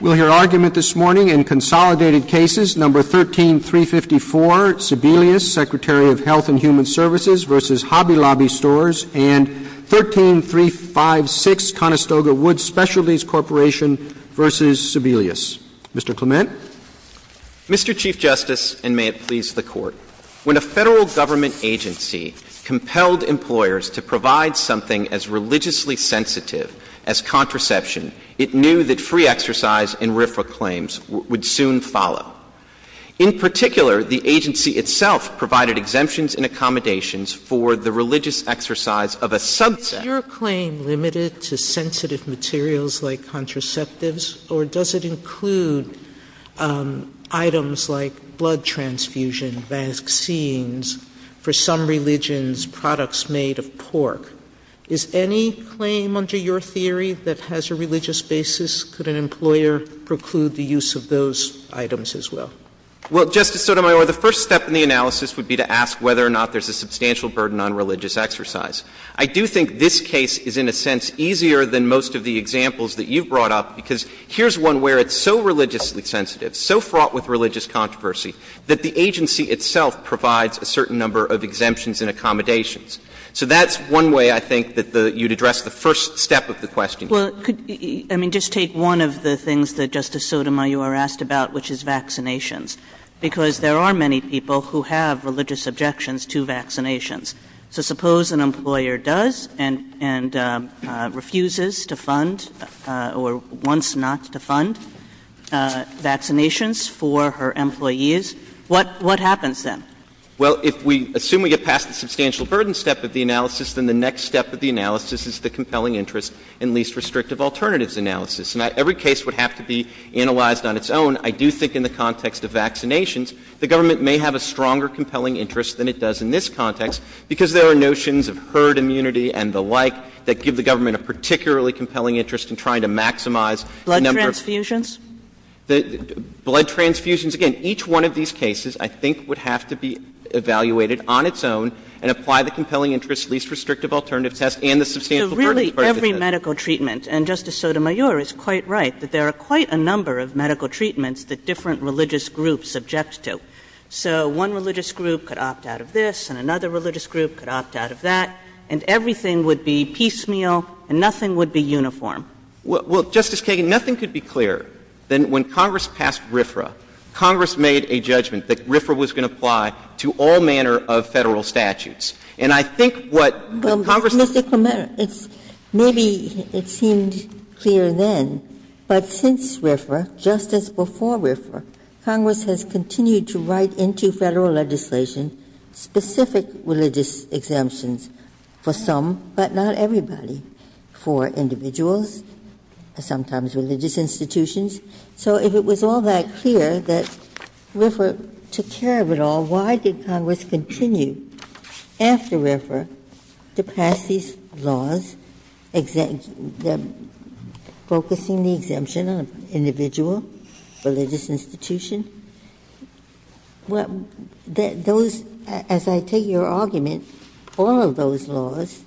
We'll hear argument this morning in consolidated cases, No. 13354, Sebelius, Secretary of Health and Human Services v. Hobby Lobby Stores, and 13356, Conestoga Wood Specialties Corporation v. Sebelius. Mr. Clement? Mr. Chief Justice, and may it please the Court, when a federal government agency compelled employers to provide something as religiously sensitive as contraception, it knew that free exercise and RFRA claims would soon follow. In particular, the agency itself provided exemptions and accommodations for the religious exercise of a substance. Is your claim limited to sensitive materials like contraceptives, or does it include items like blood transfusion, vaccines, for some religions, products made of pork? Is any claim under your theory that has a religious basis? Could an employer preclude the use of those items as well? Well, Justice Sotomayor, the first step in the analysis would be to ask whether or not there's a substantial burden on religious exercise. I do think this case is, in a sense, easier than most of the examples that you've brought up, because here's one where it's so religiously sensitive, so fraught with religious controversy, that the agency itself provides a certain number of exemptions and accommodations. So that's one way, I think, that you'd address the first step of the question. Well, I mean, just take one of the things that Justice Sotomayor asked about, which is vaccinations, because there are many people who have religious objections to vaccinations. So suppose an employer does and refuses to fund, or wants not to fund, vaccinations for her employees, what happens then? Well, if we assume we get past the substantial burden step of the analysis, then the next step of the analysis is the compelling interest and least restrictive alternatives analysis. Now, every case would have to be analyzed on its own. I do think in the context of vaccinations, the government may have a stronger compelling interest than it does in this context, because there are notions of herd immunity and the like that give the government a particularly compelling interest in trying to maximize the number of... Blood transfusions? Blood transfusions. Again, each one of these cases, I think, would have to be evaluated on its own and apply the compelling interest, least restrictive alternative test, and the substantial burden test. So really, every medical treatment, and Justice Sotomayor is quite right, that there are quite a number of medical treatments that different religious groups object to. So one religious group could opt out of this, and another religious group could opt out of that, and everything would be piecemeal, and nothing would be uniform. Well, Justice Kagan, nothing could be clearer than when Congress passed RFRA, Congress made a judgment that RFRA was going to apply to all manner of federal statutes. And I think what Congress... Mr. Clement, maybe it seemed clear then, but since RFRA, just as before RFRA, Congress has continued to write into federal legislation specific religious exemptions for some, but not everybody, for individuals, and sometimes religious institutions. So if it was all that clear that RFRA took care of it all, why did Congress continue after RFRA to pass these laws focusing the exemption of individual religious institutions? Those, as I take your argument, all of those laws,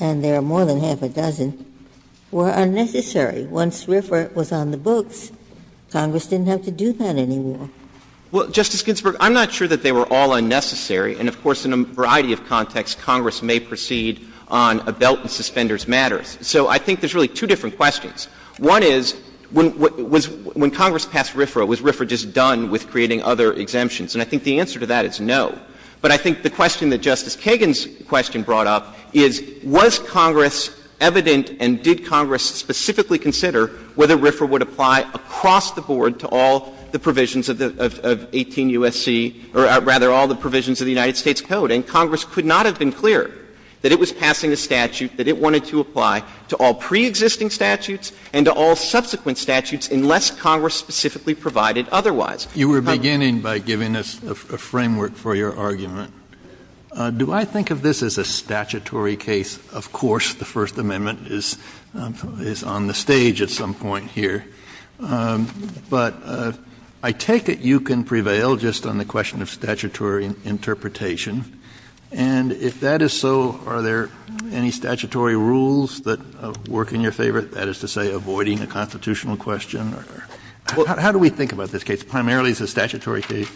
and there are more than half a dozen, were unnecessary. Once RFRA was on the books, Congress didn't have to do that anymore. Well, Justice Ginsburg, I'm not sure that they were all unnecessary, and of course, in a variety of contexts, Congress may proceed on a belt and suspenders matter. So I think there's really two different questions. One is, when Congress passed RFRA, was RFRA just done with creating other exemptions? And I think the answer to that is no. But I think the question that Justice Kagan's question brought up is, was Congress evident and did Congress specifically consider whether RFRA would apply across the board to all the provisions of 18 U.S.C., or rather, all the provisions of the United States Code? And Congress could not have been clearer that it was passing a statute that it wanted to apply to all pre-existing statutes and to all subsequent statutes unless Congress specifically provided otherwise. You were beginning by giving us a framework for your argument. Do I think of this as a statutory case? Of course, the First Amendment is on the stage at some point here. But I take it you can prevail just on the question of statutory interpretation. And if that is so, are there any statutory rules that work in your favor? That is to say, avoiding a constitutional question? How do we think about this case, primarily as a statutory case?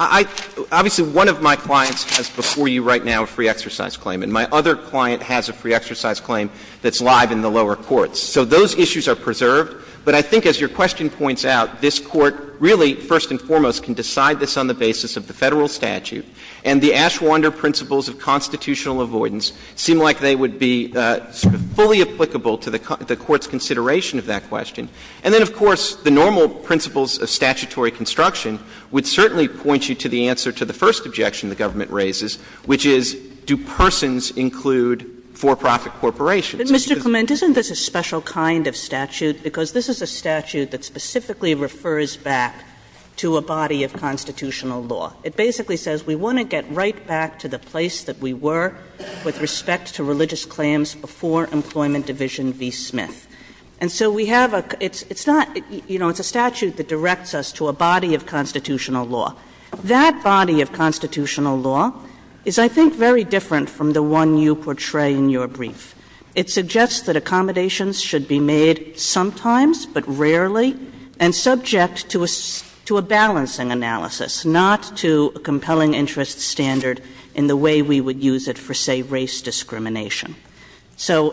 Obviously, one of my clients has before you right now a free exercise claim. And my other client has a free exercise claim that's live in the lower courts. So those issues are preserved. But I think as your question points out, this Court really, first and foremost, can decide this on the basis of the Federal statute. And the Ashwander principles of constitutional avoidance seem like they would be fully applicable to the Court's consideration of that question. And then, of course, the normal principles of statutory construction would certainly point you to the answer to the first objection the government raises, which is, do persons include for-profit corporations? But, Mr. Clement, isn't this a special kind of statute? Because this is a statute that specifically refers back to a body of constitutional law. It basically says we want to get right back to the place that we were with respect to religious claims before Employment Division v. Smith. And so we have a – it's not – you know, it's a statute that directs us to a body of constitutional law. That body of constitutional law is, I think, very different from the one you portray in your brief. It suggests that accommodations should be made sometimes, but rarely, and subject to a balancing analysis, not to a compelling interest standard in the way we would use it for, say, race discrimination. So,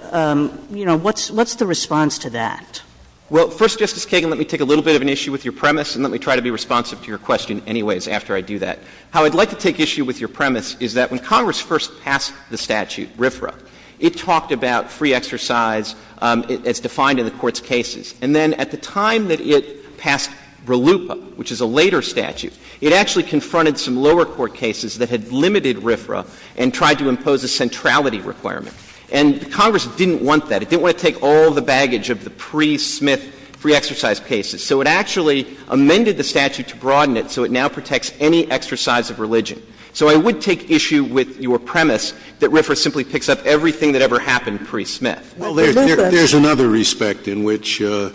you know, what's the response to that? Well, first, Justice Kagan, let me take a little bit of an issue with your premise, and let me try to be responsive to your question anyways after I do that. How I'd like to take issue with your premise is that when Congress first passed the statute, RFRA, it talked about free exercise as defined in the Court's cases. And then at the time that it passed RLUIPA, which is a later statute, it actually confronted some lower court cases that had limited RFRA and tried to impose a centrality requirement. And Congress didn't want that. It didn't want to take all the baggage of the pre-Smith free exercise cases. So it actually amended the statute to broaden it so it now protects any exercise of religion. So I would take issue with your premise that RFRA simply picks up everything that ever happened pre-Smith. Well, there's another respect in which this,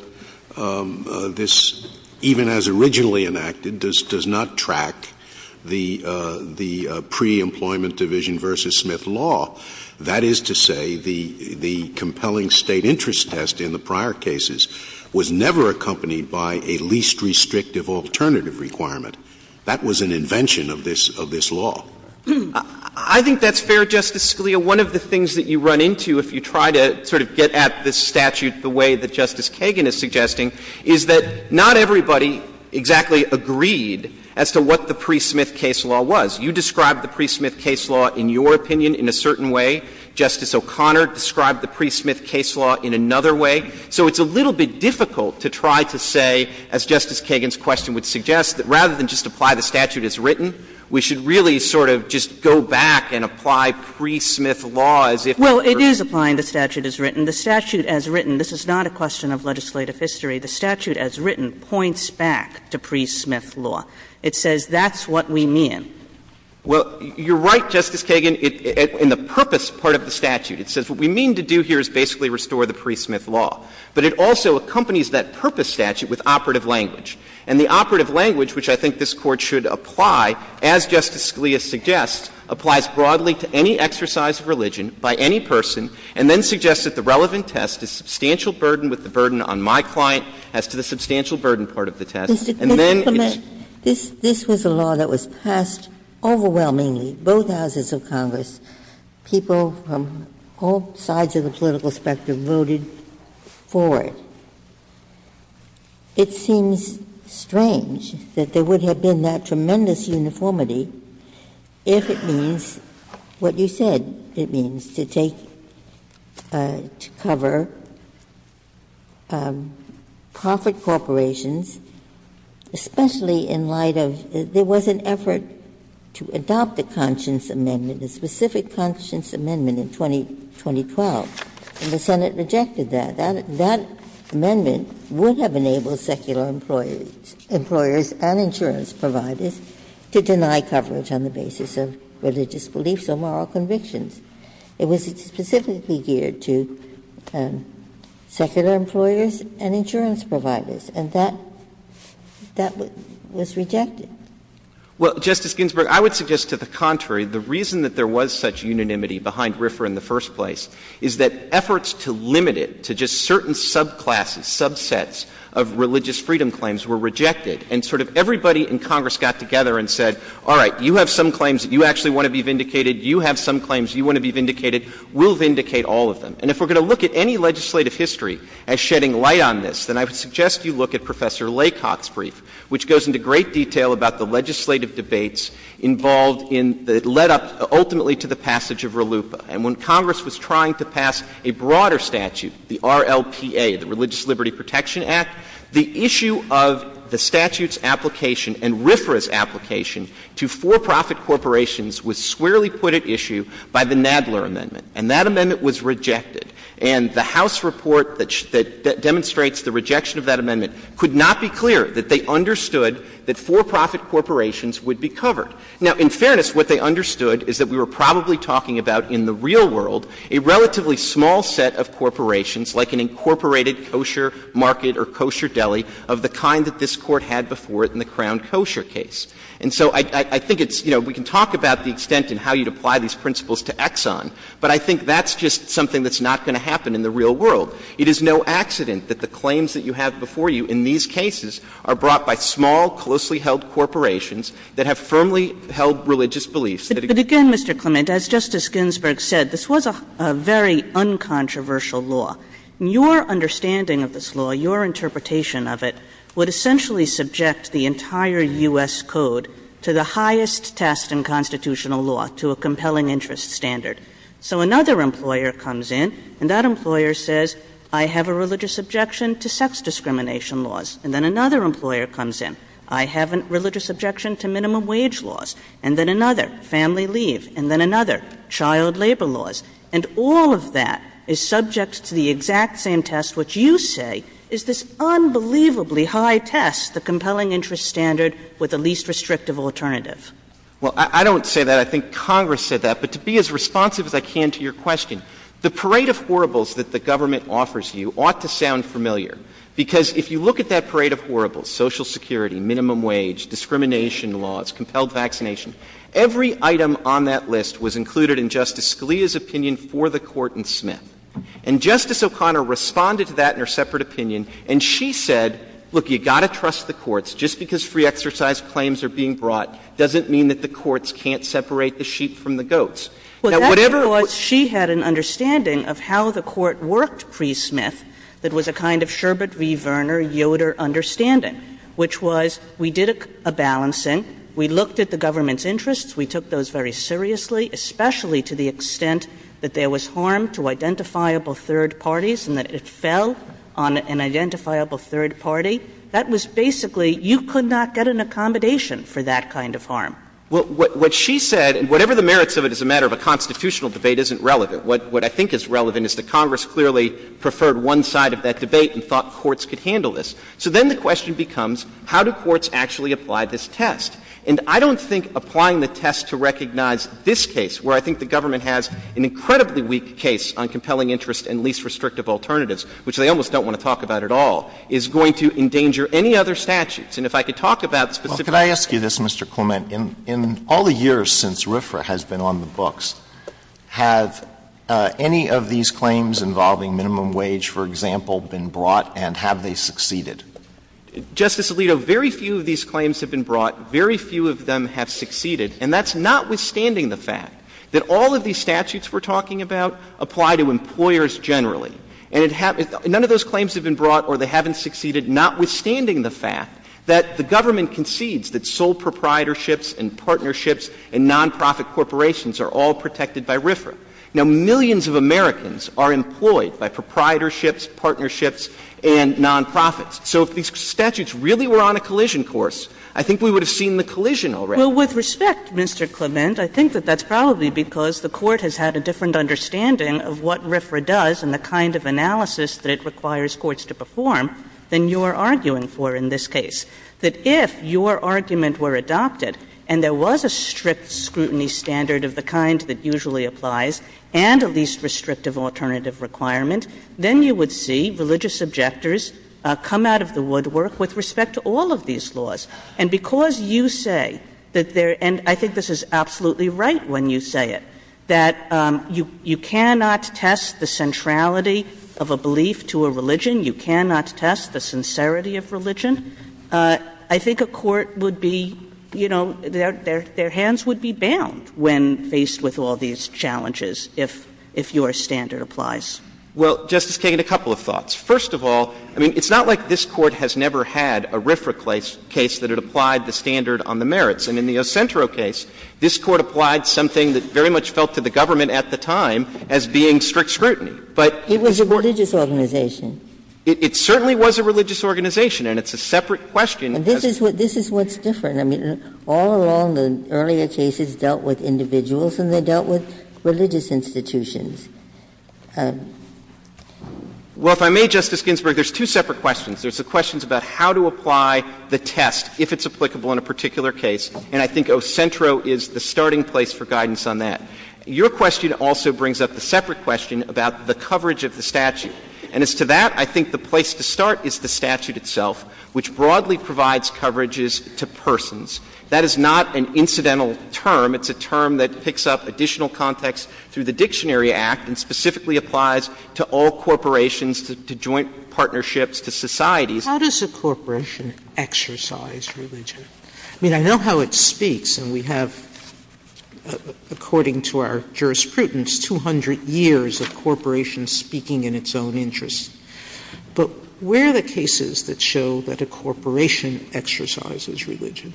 even as originally enacted, does not track the pre-employment division versus Smith law. That is to say, the compelling state interest test in the prior cases was never accompanied by a least restrictive alternative requirement. That was an invention of this law. I think that's fair, Justice Scalia. One of the things that you run into if you try to sort of get at this statute the way that Justice Kagan is suggesting is that not everybody exactly agreed as to what the pre-Smith case law was. You described the pre-Smith case law in your opinion in a certain way. Justice O'Connor described the pre-Smith case law in another way. So it's a little bit difficult to try to say, as Justice Kagan's question would suggest, that rather than just apply the statute as written, we should really sort of just go back and apply pre-Smith law as if it were the case. Well, it is applying the statute as written. The statute as written, this is not a question of legislative history, the statute as written points back to pre-Smith law. It says that's what we mean. Well, you're right, Justice Kagan, in the purpose part of the statute. It says what we mean to do here is basically restore the pre-Smith law. But it also accompanies that purpose statute with operative language. And the operative language, which I think this Court should apply, as Justice Scalia suggests, applies broadly to any exercise of religion by any person, and then suggests that the relevant test is substantial burden with the burden on my client as to the substantial burden part of the test. And then it's — Mr. Clement, this was a law that was passed overwhelmingly. Both houses of Congress, people from all sides of the political spectrum voted for it. It seems strange that there would have been that tremendous uniformity if it means what you said it means, to take — to cover corporate corporations, especially in light of — there was an effort to adopt the Conscience Amendment, the specific Conscience Amendment in 2012, and the Senate rejected that. That amendment would have enabled secular employers and insurance providers to deny coverage on the basis of religious beliefs or moral convictions. It was specifically geared to secular employers and insurance providers. And that was rejected. Well, Justice Ginsburg, I would suggest to the contrary. The reason that there was such unanimity behind RFRA in the first place is that efforts to limit it to just certain subclasses, subsets of religious freedom claims were rejected. And sort of everybody in Congress got together and said, all right, you have some claims that you actually want to be vindicated. You have some claims you want to be vindicated. We'll vindicate all of them. And if we're going to look at any legislative history as shedding light on this, then I would suggest you look at Professor Laycock's brief, which goes into great detail about the legislative debates involved in — that led up ultimately to the passage of RLUIPA. And when Congress was trying to pass a broader statute, the RLPA, the Religious Liberty Protection Act, the issue of the statute's application and RFRA's application to for-profit corporations was squarely put at issue by the Nadler Amendment. And that amendment was rejected. And the House report that demonstrates the rejection of that amendment could not be clear that they understood that for-profit corporations would be covered. Now, in fairness, what they understood is that we were probably talking about in the real world a relatively small set of corporations like an incorporated kosher market or kosher deli of the kind that this Court had before it in the Crown Kosher case. And so I think it's — you know, we can talk about the extent in how you'd apply these principles to Exxon, but I think that's just something that's not going to happen in the real world. It is no accident that the claims that you have before you in these cases are brought by small, closely held corporations that have firmly held religious beliefs. But again, Mr. Clement, as Justice Ginsburg said, this was a very uncontroversial law. And your understanding of this law, your interpretation of it would essentially subject the entire U.S. Code to the highest test in constitutional law, to a compelling interest standard. So another employer comes in, and that employer says, I have a religious objection to sex comes in. I have a religious objection to minimum wage laws. And then another, family leave. And then another, child labor laws. And all of that is subject to the exact same test which you say is this unbelievably high test, the compelling interest standard with the least restrictive alternative. Well, I don't say that. I think Congress said that. But to be as responsive as I can to your question, the parade of horribles that the government offers you ought to sound familiar. Because if you look at that parade of horribles, Social Security, minimum wage, discrimination laws, compelled vaccination, every item on that list was included in Justice Scalia's opinion for the Court in Smith. And Justice O'Connor responded to that in her separate opinion. And she said, look, you've got to trust the courts. Just because free exercise claims are being brought doesn't mean that the courts can't separate the sheep from the goats. Now, whatever —— which was we did a balancing. We looked at the government's interests. We took those very seriously, especially to the extent that there was harm to identifiable third parties and that it fell on an identifiable third party. That was basically — you could not get an accommodation for that kind of harm. Well, what she said, and whatever the merits of it as a matter of a constitutional debate, isn't relevant. What I think is relevant is that Congress clearly preferred one side of that debate and thought courts could handle this. So then the question becomes, how do courts actually apply this test? And I don't think applying the test to recognize this case, where I think the government has an incredibly weak case on compelling interest and least restrictive alternatives, which they almost don't want to talk about at all, is going to endanger any other statutes. And if I could talk about — Justice Clement, in all the years since RFRA has been on the books, have any of these claims involving minimum wage, for example, been brought, and have they succeeded? Justice Alito, very few of these claims have been brought. Very few of them have succeeded. And that's notwithstanding the fact that all of these statutes we're talking about apply to employers generally. And none of those claims have been brought or they haven't succeeded, notwithstanding the fact that the government concedes that sole proprietorships and partnerships and nonprofit corporations are all protected by RFRA. Now, millions of Americans are employed by proprietorships, partnerships, and nonprofits. So if these statutes really were on a collision course, I think we would have seen the collision already. Well, with respect, Mr. Clement, I think that that's probably because the court has had a different understanding of what RFRA does and the kind of analysis that it requires courts to perform than you are arguing for in this case. That if your argument were adopted and there was a strict scrutiny standard of the kind that usually applies and a least restrictive alternative requirement, then you would see religious objectors come out of the woodwork with respect to all of these laws. And because you say that there – and I think this is absolutely right when you say it – that you cannot test the centrality of a belief to a religion. You cannot test the sincerity of religion. I think a court would be – you know, their hands would be bound when faced with all these challenges if your standard applies. Well, Justice Kagan, a couple of thoughts. First of all, I mean, it's not like this Court has never had a RFRA case that it applied the standard on the merits. I mean, in the Ocentro case, this Court applied something that very much felt to the government at the time as being strict scrutiny. It was a religious organization. It certainly was a religious organization, and it's a separate question. This is what's different. I mean, all along, the earlier cases dealt with individuals, and they dealt with religious institutions. Well, if I may, Justice Ginsburg, there's two separate questions. There's the questions about how to apply the test if it's applicable in a particular case, and I think Ocentro is the starting place for guidance on that. Your question also brings up a separate question about the coverage of the statute. And as to that, I think the place to start is the statute itself, which broadly provides coverages to persons. That is not an incidental term. It's a term that picks up additional context through the Dictionary Act and specifically applies to all corporations, to joint partnerships, to societies. How does a corporation exercise religion? I mean, I know how it speaks, and we have, according to our jurisprudence, 200 years of corporations speaking in its own interest. But where are the cases that show that a corporation exercises religion?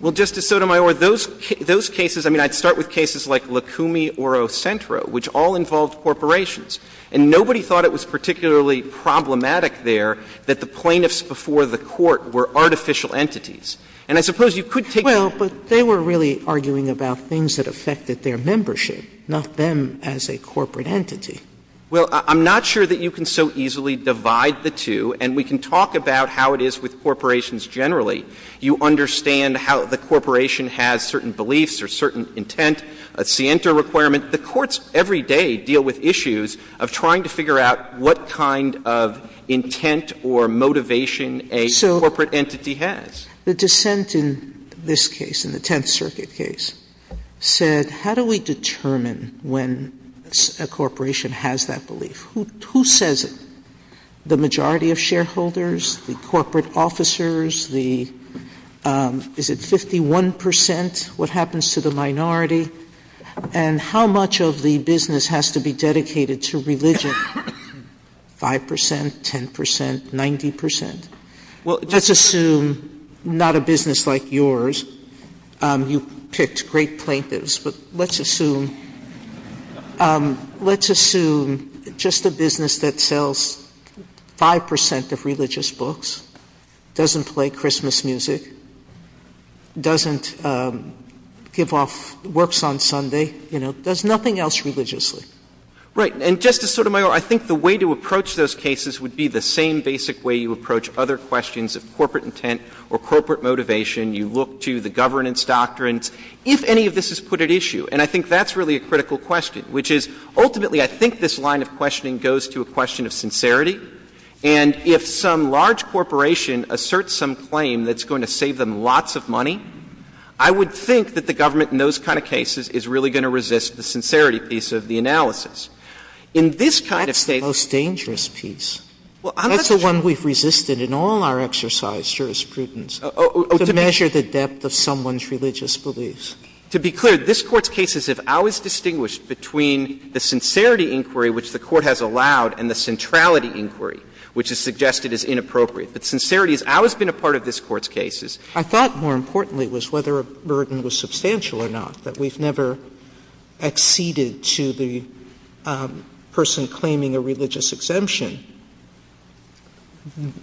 Well, Justice Sotomayor, those cases – I mean, I'd start with cases like Licumi or Ocentro, which all involved corporations. And nobody thought it was particularly problematic there that the plaintiffs before the court were artificial entities. And I suppose you could take – Well, but they were really arguing about things that affected their membership, not them as a corporate entity. Well, I'm not sure that you can so easily divide the two, and we can talk about how it is with corporations generally. You understand how the corporation has certain beliefs or certain intent, a scienter requirement. The courts every day deal with issues of trying to figure out what kind of intent or motivation a corporate entity has. The dissent in this case, in the Tenth Circuit case, said how do we determine when a corporation has that belief? Who says it? The majority of shareholders, the corporate officers, the – is it 51 percent what happens to the minority? And how much of the business has to be dedicated to religion? Five percent, 10 percent, 90 percent? Well, let's assume not a business like yours. You've picked great plaintiffs, but let's assume – let's assume just a business that sells five percent of religious books, doesn't play Christmas music, doesn't give off works on Sunday, you know, does nothing else religiously. Right, and Justice Sotomayor, I think the way to approach those cases would be the same basic way you approach other questions of corporate intent or corporate motivation. You look to the governance doctrines. If any of this is put at issue, and I think that's really a critical question, which is ultimately I think this line of questioning goes to a question of sincerity, and if some large corporation asserts some claim that's going to save them lots of money, I would think that the government in those kind of cases is really going to resist the sincerity piece of the analysis. In this kind of thing – That's the most dangerous piece. Well, I'm not sure – That's the one we've resisted in all our exercise jurisprudence. To measure the depth of someone's religious beliefs. To be clear, this Court's cases have always distinguished between the sincerity inquiry which the Court has allowed and the centrality inquiry, which is suggested as inappropriate. But sincerity has always been a part of this Court's cases. I thought more importantly was whether a burden was substantial or not, that we've never acceded to the person claiming a religious exemption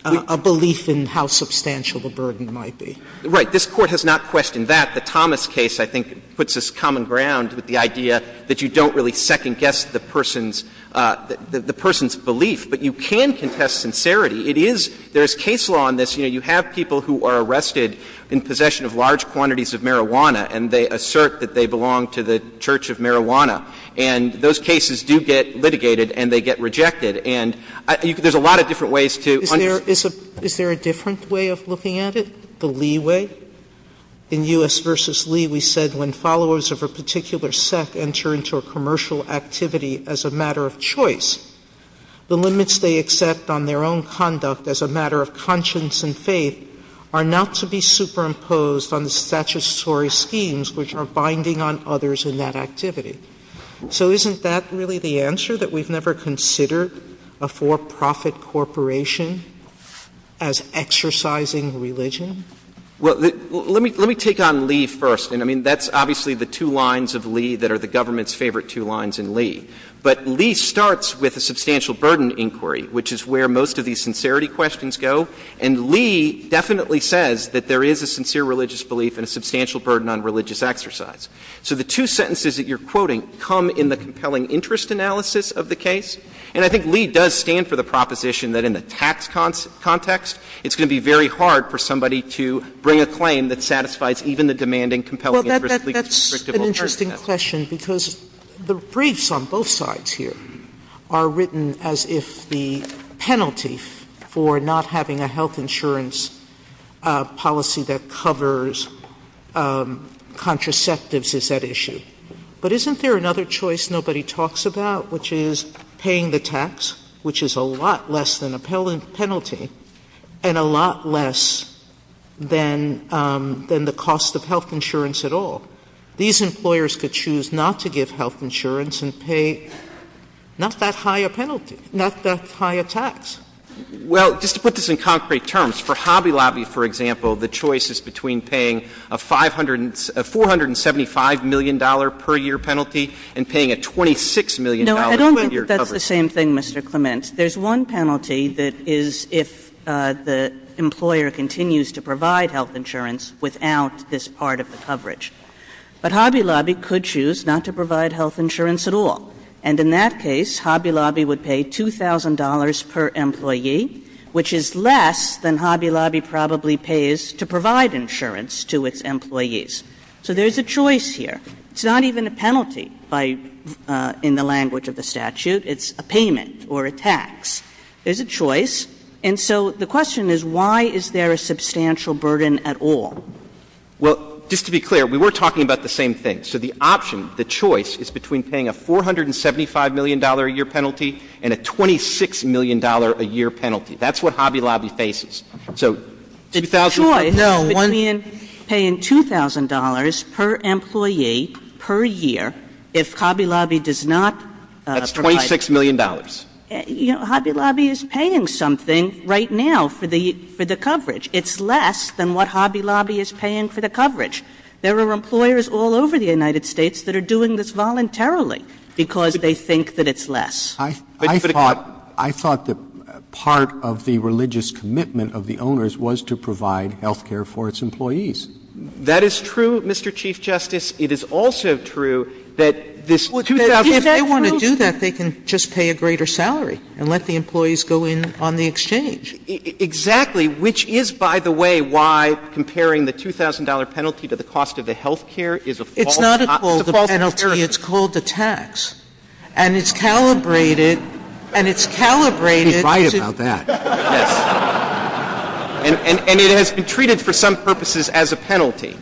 a belief in how substantial the claim might be. Right. This Court has not questioned that. The Thomas case I think puts us common ground with the idea that you don't really second guess the person's – the person's belief. But you can contest sincerity. It is – there's case law on this. You know, you have people who are arrested in possession of large quantities of marijuana, and they assert that they belong to the church of marijuana. And those cases do get litigated, and they get rejected. And there's a lot of different ways to – Is there a different way of looking at it, the Lee way? In U.S. v. Lee, we said when followers of a particular sect enter into a commercial activity as a matter of choice, the limits they accept on their own conduct as a matter of conscience and faith are not to be superimposed on the statutory schemes which are binding on others in that activity. So isn't that really the answer, that we've never considered a for-profit corporation as exercising religion? Well, let me take on Lee first. And I mean, that's obviously the two lines of Lee that are the government's favorite two lines in Lee. But Lee starts with a substantial burden inquiry, which is where most of these sincerity questions go. And Lee definitely says that there is a sincere religious belief and a substantial burden on religious exercise. So the two sentences that you're quoting come in the compelling interest analysis of the case. And I think Lee does stand for the proposition that in the tax context, it's going to be very hard for somebody to bring a claim that satisfies even the demanding compelling interest – Well, that's an interesting question, because the briefs on both sides here are written as if the penalty for not having a health insurance policy that covers contraceptives is at issue. But isn't there another choice nobody talks about, which is paying the tax, which is a lot less than a penalty, and a lot less than the cost of health insurance at all? These employers could choose not to give health insurance and pay not that high a penalty, not that high a tax. Well, just to put this in concrete terms, for Hobby Lobby, for example, the choice is between paying a $475 million per year penalty and paying a $26 million per year coverage. No, I don't think that's the same thing, Mr. Clement. There's one penalty that is if the employer continues to provide health insurance without this part of the coverage. But Hobby Lobby could choose not to provide health insurance at all. And in that case, Hobby Lobby would pay $2,000 per employee, which is less than Hobby Lobby probably pays to provide insurance to its employees. So there's a choice here. It's not even a penalty in the language of the statute. It's a payment or a tax. There's a choice. And so the question is, why is there a substantial burden at all? Well, just to be clear, we were talking about the same thing. So the option, the choice, is between paying a $475 million a year penalty and a $26 million a year penalty. That's what Hobby Lobby faces. So $2,000. Sure. No. Paying $2,000 per employee per year if Hobby Lobby does not provide. That's $26 million. You know, Hobby Lobby is paying something right now for the coverage. It's less than what Hobby Lobby is paying for the coverage. There are employers all over the United States that are doing this voluntarily because they think that it's less. I thought that part of the religious commitment of the owners was to provide health care for its employees. That is true, Mr. Chief Justice. If they want to do that, they can just pay a greater salary and let the employees go in on the exchange. Exactly. Which is, by the way, why comparing the $2,000 penalty to the cost of the health care is appalling. It's not called the penalty. It's called the tax. And it's calibrated. And it's calibrated. She's right about that. And it has been treated for some purposes as a penalty.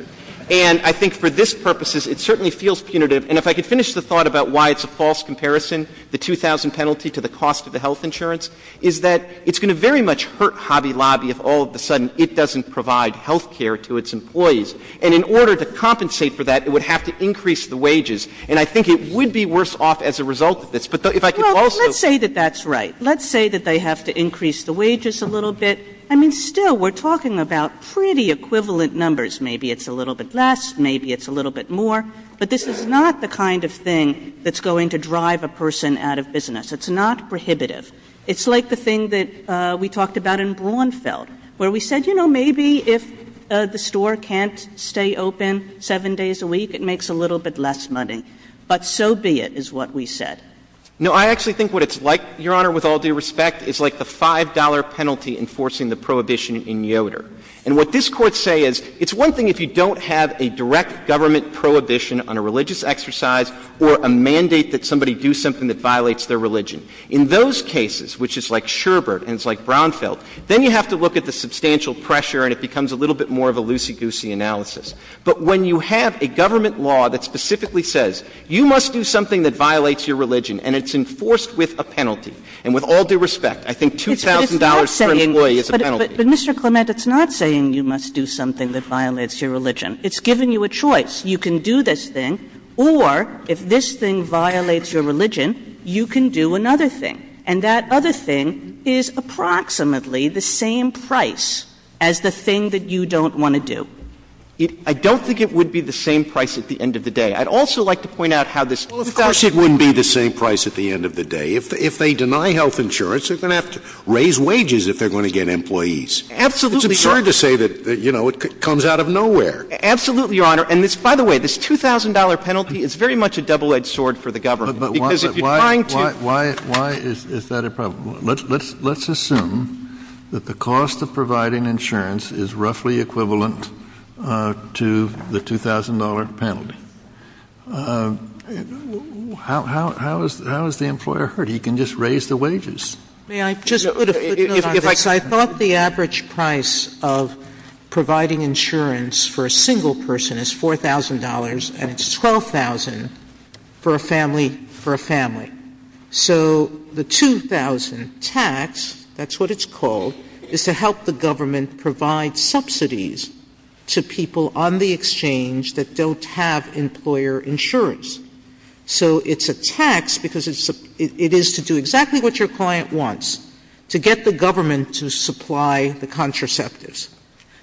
And I think for this purposes, it certainly feels punitive. And if I could finish the thought about why it's a false comparison, the $2,000 penalty to the cost of the health insurance, is that it's going to very much hurt Hobby Lobby if all of a sudden it doesn't provide health care to its employees. And in order to compensate for that, it would have to increase the wages. And I think it would be worse off as a result of this. But if I could also — Well, let's say that that's right. Let's say that they have to increase the wages a little bit. I mean, still, we're talking about pretty equivalent numbers. Maybe it's a little bit less. Maybe it's a little bit more. But this is not the kind of thing that's going to drive a person out of business. It's not prohibitive. It's like the thing that we talked about in Braunfeld, where we said, you know, maybe if the store can't stay open seven days a week, it makes a little bit less money. But so be it, is what we said. No, I actually think what it's like, Your Honor, with all due respect, is like the $5 penalty enforcing the prohibition in Yoder. And what this Court say is, it's one thing if you don't have a direct government prohibition on a religious exercise or a mandate that somebody do something that violates their religion. In those cases, which is like Sherbert and it's like Braunfeld, then you have to look at the substantial pressure and it becomes a little bit more of a loosey-goosey analysis. But when you have a government law that specifically says, you must do something that violates your religion and it's enforced with a penalty, and with all due respect, I think $2,000 straight away is a penalty. But Mr. Clement, it's not saying you must do something that violates your religion. It's giving you a choice. You can do this thing, or if this thing violates your religion, you can do another thing. And that other thing is approximately the same price as the thing that you don't want to do. I don't think it would be the same price at the end of the day. I'd also like to point out how this... Of course it wouldn't be the same price at the end of the day. If they deny health insurance, they're going to have to raise wages if they're going to get employees. It's absurd to say that it comes out of nowhere. Absolutely, Your Honor. And by the way, this $2,000 penalty is very much a double-edged sword for the government. Why is that a problem? Let's assume that the cost of providing insurance is roughly equivalent to the $2,000 penalty. How is the employer hurt? He can just raise the wages. I thought the average price of providing insurance for a single person is $4,000, and it's $12,000 for a family. So the $2,000 tax, that's what it's called, is to help the government provide subsidies to people on the exchange that don't have employer insurance. So it's a tax because it is to do exactly what your client wants, to get the government to supply the contraceptives,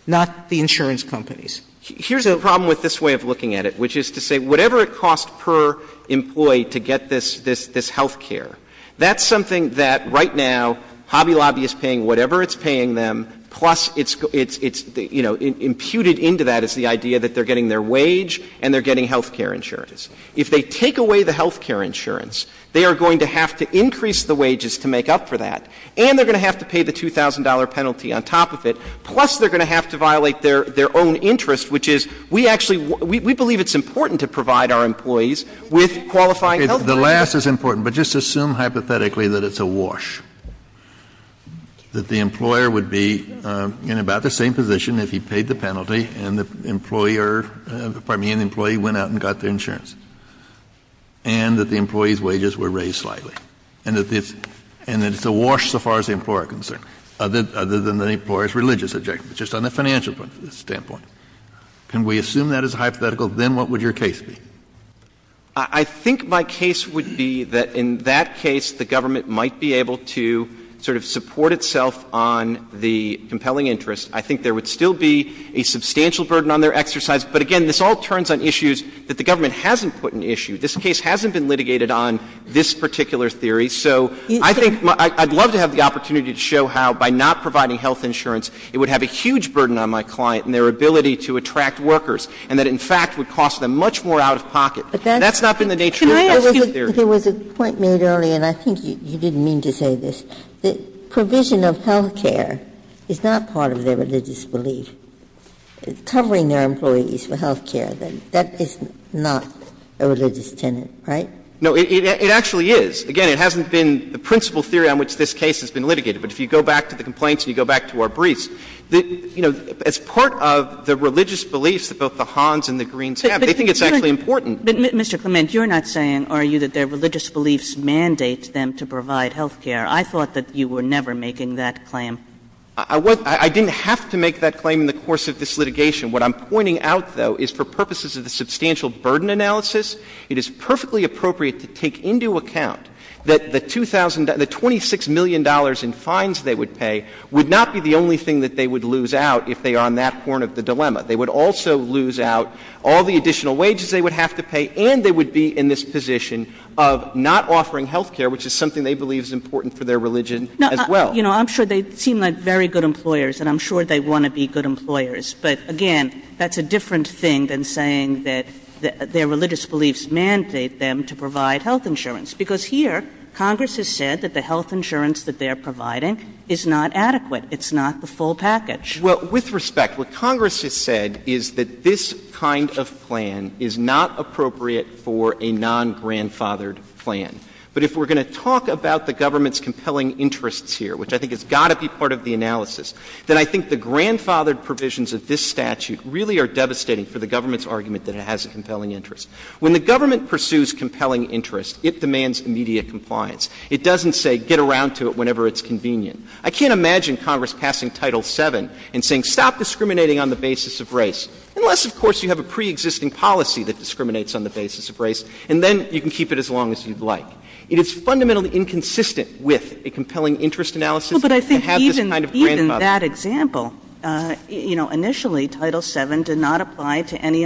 not the insurance companies. Here's the problem with this way of looking at it, which is to say whatever it costs per employee to get this health care, that's something that right now Hobby Lobby is paying whatever it's paying them, plus it's, you know, imputed into that is the idea that they're getting their wage and they're getting health care insurance. If they take away the health care insurance, they are going to have to increase the wages to make up for that, and they're going to have to pay the $2,000 penalty on top of it, plus they're going to have to violate their own interest, which is we actually, we believe The last is important, but just assume hypothetically that it's a wash, that the employer would be in about the same position if he paid the penalty and the employer, pardon me, an employee went out and got their insurance, and that the employee's wages were raised slightly, and that it's a wash so far as the employer is concerned, other than the employer's religious objective, just on the financial standpoint. Can we assume that is hypothetical? Then what would your case be? I think my case would be that in that case, the government might be able to sort of support itself on the compelling interest. I think there would still be a substantial burden on their exercise, but again, this all turns on issues that the government hasn't put an issue. This case hasn't been litigated on this particular theory, so I think I'd love to have the opportunity to show how by not providing health insurance, it would have a huge burden on my client and their ability to attract workers, and that in fact would cost them much more out of pocket. That's not been the nature of the scheme theory. There was a point made earlier, and I think you didn't mean to say this, that provision of health care is not part of their religious belief. Covering their employees for health care, that is not a religious tenet, right? No, it actually is. Again, it hasn't been the principal theory on which this case has been litigated, but if you go back to the complaints and you go back to our briefs, it's part of the religious beliefs of both the Hans and the Greens. They think it's actually important. But Mr. Clement, you're not saying, are you, that their religious beliefs mandate them to provide health care? I thought that you were never making that claim. I didn't have to make that claim in the course of this litigation. What I'm pointing out, though, is for purposes of the substantial burden analysis, it is would not be the only thing that they would lose out if they are on that corner of the dilemma. They would also lose out all the additional wages they would have to pay, and they would be in this position of not offering health care, which is something they believe is important for their religion as well. I'm sure they seem like very good employers, and I'm sure they want to be good employers. But again, that's a different thing than saying that their religious beliefs mandate them to provide health insurance. Because here, Congress has said that the health insurance that they're providing is not adequate. It's not the full package. Well, with respect, what Congress has said is that this kind of plan is not appropriate for a non-grandfathered plan. But if we're going to talk about the government's compelling interests here, which I think has got to be part of the analysis, then I think the grandfathered provisions of this statute really are devastating for the government's argument that it has a compelling interest. When the government pursues compelling interests, it demands immediate compliance. It doesn't say, get around to it whenever it's convenient. I can't imagine Congress passing Title VII and saying, stop discriminating on the basis of race, unless, of course, you have a preexisting policy that discriminates on the basis of race, and then you can keep it as long as you'd like. It is fundamentally inconsistent with a compelling interest analysis to have this kind of grandfathered policy. Well, but I think even that example, you know, initially, Title VII did not apply to any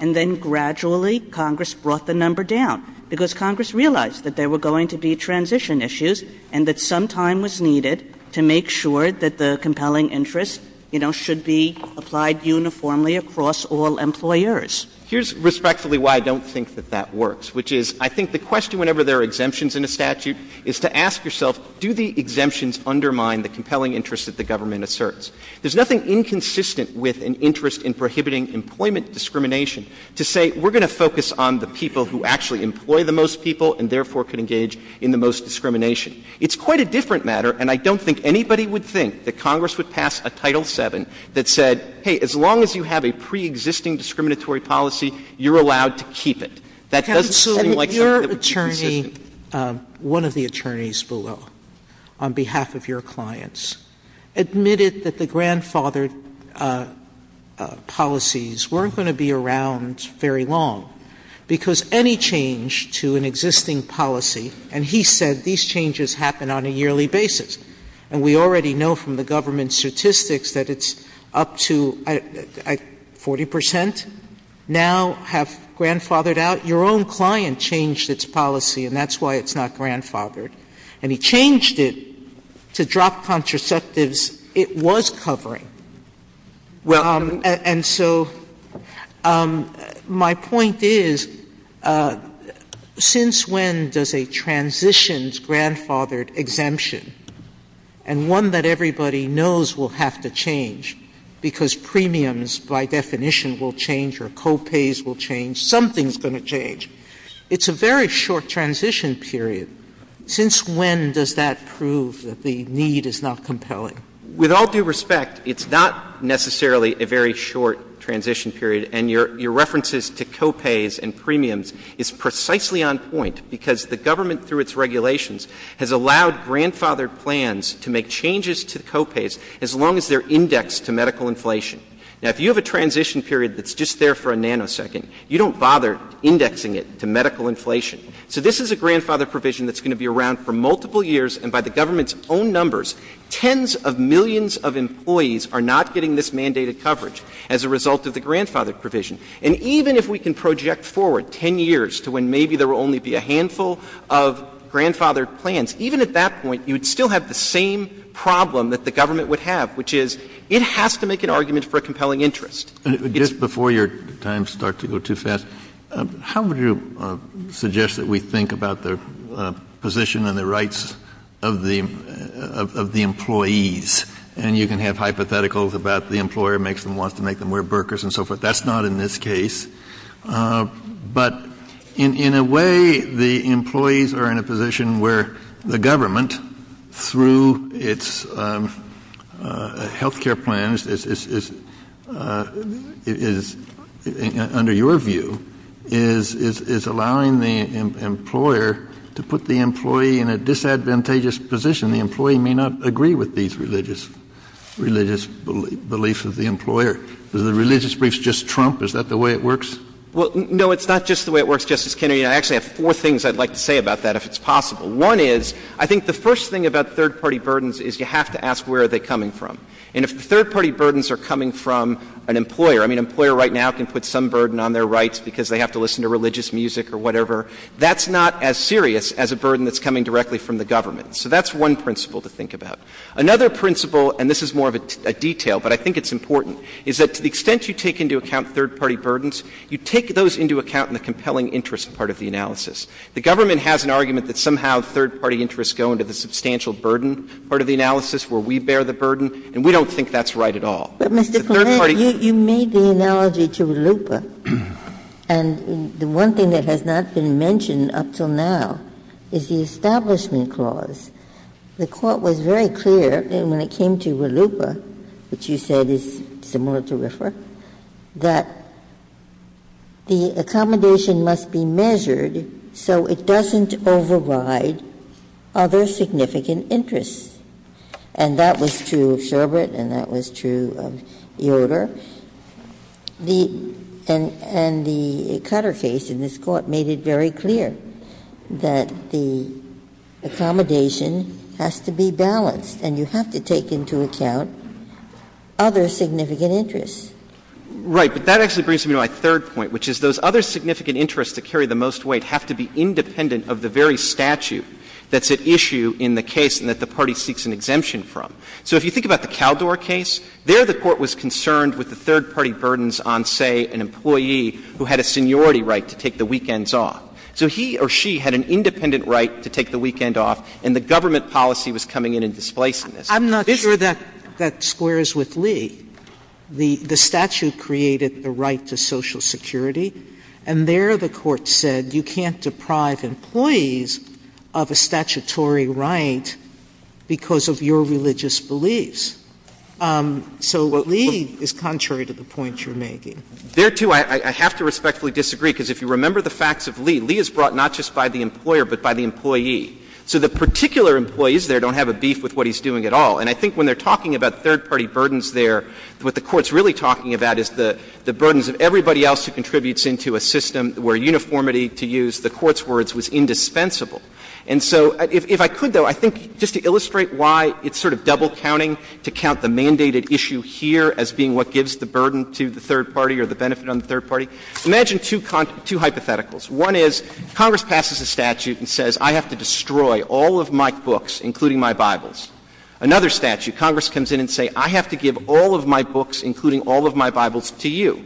And then gradually, Congress brought the number down, because Congress realized that there were going to be transition issues and that some time was needed to make sure that the compelling interest, you know, should be applied uniformly across all employers. Here's respectfully why I don't think that that works, which is I think the question whenever there are exemptions in a statute is to ask yourself, do the exemptions undermine the compelling interests that the government asserts? There's nothing inconsistent with an interest in prohibiting employment discrimination to say, we're going to focus on the people who actually employ the most people and therefore can engage in the most discrimination. It's quite a different matter, and I don't think anybody would think that Congress would pass a Title VII that said, hey, as long as you have a preexisting discriminatory policy, you're allowed to keep it. That doesn't sound like something that would be consistent. One of the attorneys below on behalf of your clients admitted that the grandfathered policies weren't going to be around very long, because any change to an existing policy, and he said these changes happen on a yearly basis, and we already know from the government statistics that it's up to 40 percent now have grandfathered out. Your own client changed its policy, and that's why it's not grandfathered, and he changed it to drop contraceptives it was covering. And so my point is, since when does a transition's grandfathered exemption, and one that everybody knows will have to change, because premiums by definition will change or co-pays will change, it's a very short transition period. Since when does that prove that the need is not compelling? With all due respect, it's not necessarily a very short transition period, and your references to co-pays and premiums is precisely on point, because the government through its regulations has allowed grandfathered plans to make changes to co-pays as long as they're indexed to medical inflation. Now, if you have a transition period that's just there for a nanosecond, you don't bother indexing it to medical inflation, so this is a grandfathered provision that's going to be around for multiple years, and by the government's own numbers, tens of millions of employees are not getting this mandated coverage as a result of the grandfathered provision. And even if we can project forward 10 years to when maybe there will only be a handful of grandfathered plans, even at that point, you'd still have the same problem that the government would have, which is it has to make an argument for a compelling interest. Just before your time starts to go too fast, how would you suggest that we think about the position and the rights of the employees? And you can have hypotheticals about the employer wants to make them wear burkas and so forth. That's not in this case. But in a way, the employees are in a position where the government, through its health care plans, is, under your view, is allowing the employer to put the employee in a disadvantageous position. The employee may not agree with these religious beliefs of the employer. Does the religious belief just trump? Is that the way it works? Well, no, it's not just the way it works, Justice Kennedy. I actually have four things I'd like to say about that, if it's possible. One is, I think the first thing about third-party burdens is you have to ask where are they coming from. And if the third-party burdens are coming from an employer, I mean, an employer right now can put some burden on their rights because they have to listen to religious music or whatever. That's not as serious as a burden that's coming directly from the government. So that's one principle to think about. Another principle, and this is more of a detail, but I think it's important, is that to the extent you take into account third-party burdens, you take those into account in the compelling interest part of the analysis. The government has an argument that somehow third-party interests go into the substantial burden part of the analysis where we bear the burden, and we don't think that's right at all. But, Mr. Clement, you made the analogy to LUPA. And the one thing that has not been mentioned up till now is the Establishment Clause. The Court was very clear when it came to LUPA, which you said is similar to RIFRA, that the accommodation must be measured so it doesn't override other significant interests. And that was true of Sherbert, and that was true of Eodor. And the Cutter case in this Court made it very clear that the accommodation has to be balanced, and you have to take into account other significant interests. Right. But that actually brings me to my third point, which is those other significant interests that carry the most weight have to be independent of the very statute that's at issue in the case and that the party seeks an exemption from. So if you think about the Kaldor case, there the Court was concerned with the third-party burdens on, say, an employee who had a seniority right to take the weekends off. So he or she had an independent right to take the weekend off, and the government policy was coming in and displacing this. I'm not sure that that squares with Lee. The statute created the right to Social Security, and there the Court said you can't deprive employees of a statutory right because of your religious beliefs. So Lee is contrary to the point you're making. There, too, I have to respectfully disagree, because if you remember the facts of Lee, Lee is brought not just by the employer but by the employee. So the particular employees there don't have a beef with what he's doing at all. And I think when they're talking about third-party burdens there, what the Court's really talking about is the burdens that everybody else who contributes into a system where uniformity, to use the Court's words, was indispensable. And so if I could, though, I think just to illustrate why it's sort of double-counting to count the mandated issue here as being what gives the burden to the third party or the benefit on the third party, imagine two hypotheticals. One is Congress passes a statute and says, I have to destroy all of my books, including my Bibles. Another statute, Congress comes in and says, I have to give all of my books, including all of my Bibles, to you.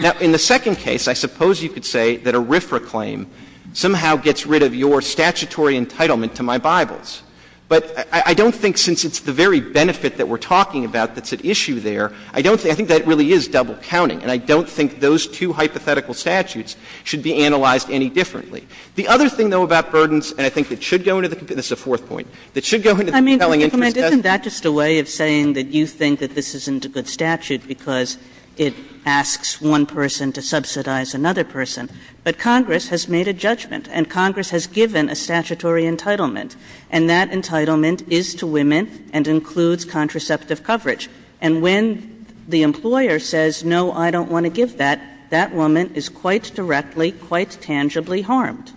Now, in the second case, I suppose you could say that a RFRA claim somehow gets rid of your statutory entitlement to my Bibles. But I don't think, since it's the very benefit that we're talking about that's at issue there, I don't think that really is double-counting. And I don't think those two hypothetical statutes should be analyzed any differently. The other thing, though, about burdens, and I think that should go into the — this is a fourth point — that should go into the compelling way of saying that you think that this isn't a good statute because it asks one person to subsidize another person. But Congress has made a judgment, and Congress has given a statutory entitlement. And that entitlement is to women and includes contraceptive coverage. And when the employer says, no, I don't want to give that, that woman is quite directly, quite tangibly harmed.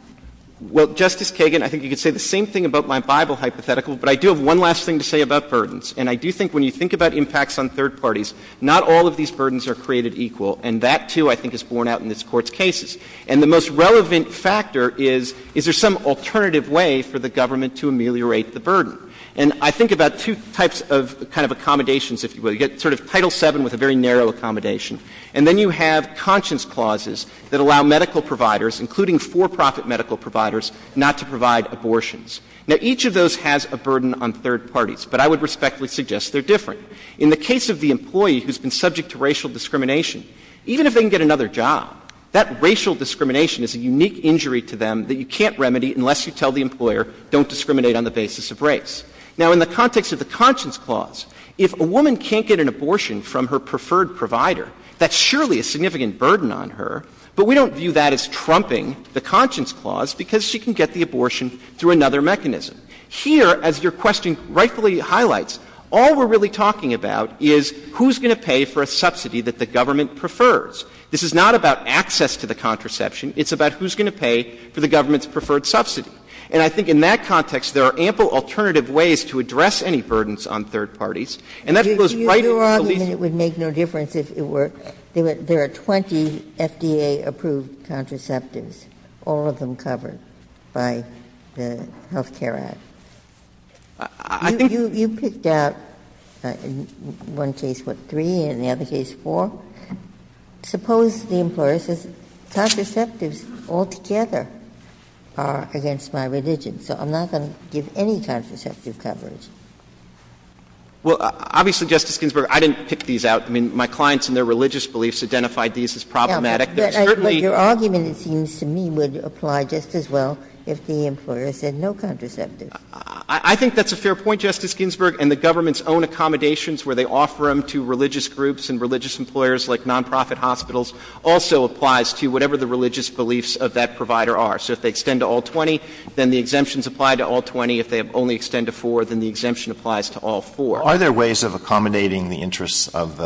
Well, Justice Kagan, I think you could say the same thing about my Bible hypothetical. But I do have one last thing to say about burdens. And I do think when you think about impacts on third parties, not all of these burdens are created equal. And that, too, I think is borne out in this Court's cases. And the most relevant factor is, is there some alternative way for the government to ameliorate the burden? And I think about two types of kind of accommodations, if you will. You've got sort of Title VII with a very narrow accommodation. And then you have conscience clauses that allow medical providers, including for-profit medical providers, not to provide abortions. Now, each of those has a burden on third parties. But I would respectfully suggest they're different. In the case of the employee who's been subject to racial discrimination, even if they can get another job, that racial discrimination is a unique injury to them that you can't remedy unless you tell the employer, don't discriminate on the basis of race. Now, in the context of the conscience clause, if a woman can't get an abortion from her preferred provider, that's surely a significant burden on her. But we don't view that as trumping the conscience clause because she can get the abortion through another mechanism. Here, as your question rightfully highlights, all we're really talking about is who's going to pay for a subsidy that the government prefers. This is not about access to the contraception. It's about who's going to pay for the government's preferred subsidy. And I think in that context, there are ample alternative ways to address any burdens on third parties. And that goes right into the legal... Do you realize it would make no difference if there were 20 FDA-approved contraceptives, all of them covered by the Health Care Act? I think... You picked out, in one case, what, three, and in the other case, four? Well, suppose the employer says, contraceptives altogether are against my religion, so I'm not going to give any contraceptive coverage. Well, obviously, Justice Ginsburg, I didn't pick these out. I mean, my clients and their religious beliefs identified these as problematic. But your argument, it seems to me, would apply just as well if the employer said no contraceptives. I think that's a fair point, Justice Ginsburg. And the government's own accommodations, where they offer them to religious groups and religious employers like nonprofit hospitals, also applies to whatever the religious beliefs of that provider are. So if they extend to all 20, then the exemptions apply to all 20. If they only extend to four, then the exemption applies to all four. Are there ways of accommodating the interests of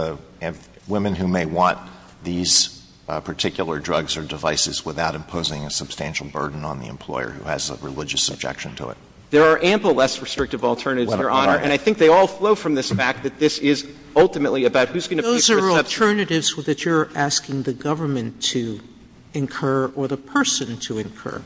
women who may want these particular drugs or devices without imposing a substantial burden on the employer who has a religious objection to it? There are ample less restrictive alternatives, Your Honor. And I think they all flow from this fact that this is ultimately about who's going to... Those are alternatives that you're asking the government to incur or the person to incur.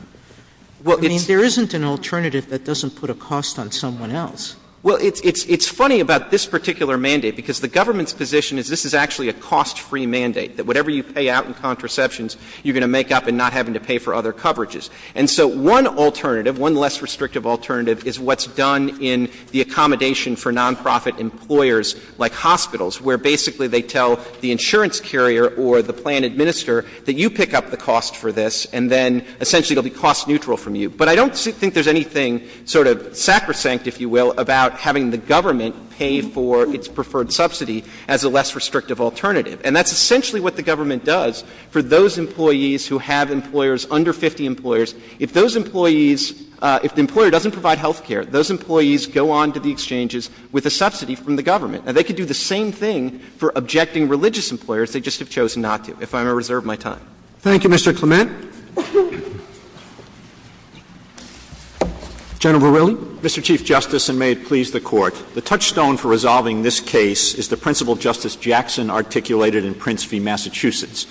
I mean, there isn't an alternative that doesn't put a cost on someone else. Well, it's funny about this particular mandate, because the government's position is this is actually a cost-free mandate, that whatever you pay out in contraceptions, you're going to make up in not having to pay for other coverages. And so one alternative, one less restrictive alternative, is what's done in the accommodation for nonprofit employers like hospitals, where basically they tell the insurance carrier or the plan administrator that you pick up the cost for this, and then essentially it will be cost-neutral from you. But I don't think there's anything sort of sacrosanct, if you will, about having the government pay for its preferred subsidy as a less restrictive alternative. And that's essentially what the government does for those employees who have employers under 50 employers. If those employees — if the employer doesn't provide health care, those employees go on to the exchanges with a subsidy from the government. And they can do the same thing for objecting religious employers. They just have chosen not to, if I reserve my time. Thank you, Mr. Clement. General Verrilli. Mr. Chief Justice, and may it please the Court, the touchstone for resolving this case is the principle Justice Jackson articulated in Prince v. Massachusetts.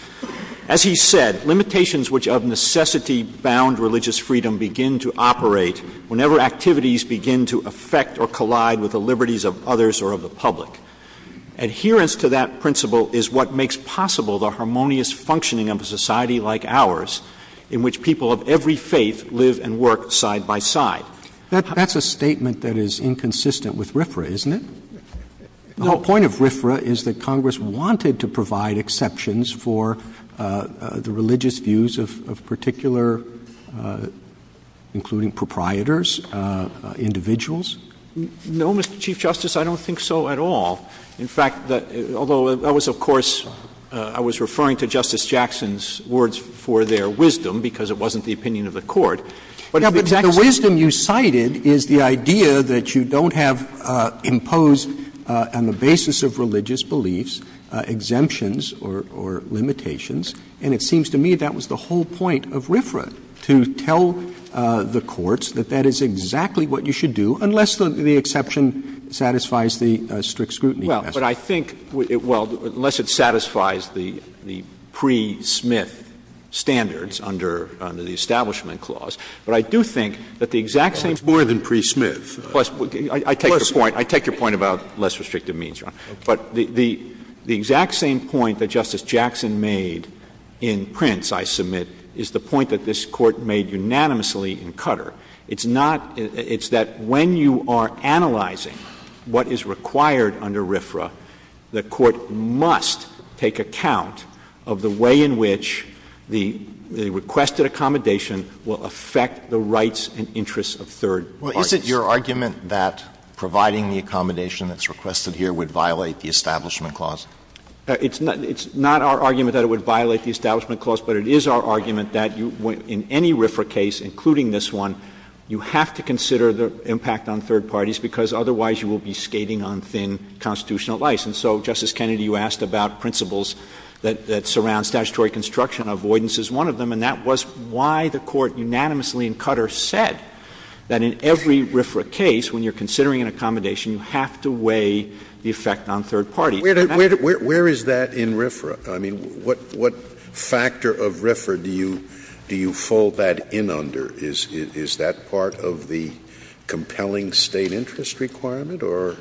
As he said, limitations which of necessity bound religious freedom begin to operate whenever activities begin to affect or collide with the liberties of others or of the public. Adherence to that principle is what makes possible the harmonious functioning of a society like ours, in which people of every faith live and work side by side. That's a statement that is inconsistent with RFRA, isn't it? No. The whole point of RFRA is that Congress wanted to provide exceptions for the religious views of particular — including proprietors, individuals. No, Mr. Chief Justice, I don't think so at all. In fact, although that was, of course — I was referring to Justice Jackson's words for their wisdom, because it wasn't the opinion of the Court. Yeah, but the wisdom you cited is the idea that you don't have imposed on the basis of religious beliefs exemptions or limitations. And it seems to me that was the whole point of RFRA, to tell the courts that that is exactly what you should do unless the exception satisfies the strict scrutiny. Well, but I think — well, unless it satisfies the pre-Smith standards under the Establishment Clause. But I do think that the exact same — More than pre-Smith. I take your point about less restrictive means, Your Honor. But the exact same point that Justice Jackson made in Prince, I submit, is the point that this Court made unanimously in Cutter. It's not — it's that when you are analyzing what is required under RFRA, the Court must take account of the way in which the requested accommodation will affect the rights and interests of third parties. Well, is it your argument that providing the accommodation that's requested here would violate the Establishment Clause? It's not our argument that it would violate the Establishment Clause, but it is our argument that in any RFRA case, including this one, you have to consider the impact on third parties, because otherwise you will be skating on thin constitutional license. And so, Justice Kennedy, you asked about principles that surround statutory construction. Avoidance is one of them. And that was why the Court unanimously in Cutter said that in every RFRA case, when you're considering an accommodation, you have to weigh the effect on third parties. Where is that in RFRA? I mean, what factor of RFRA do you fold that in under? Is that part of the compelling State interest requirement or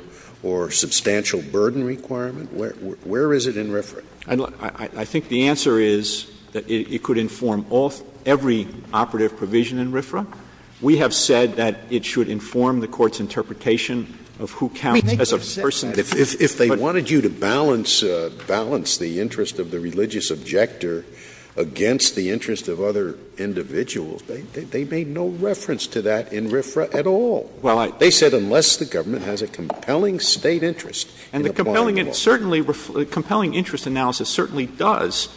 substantial burden requirement? Where is it in RFRA? I think the answer is that it could inform every operative provision in RFRA. We have said that it should inform the Court's interpretation of who counts as a person. If they wanted you to balance the interest of the religious objector against the interest of other individuals, they made no reference to that in RFRA at all. They said unless the government has a compelling State interest. And the compelling interest analysis certainly does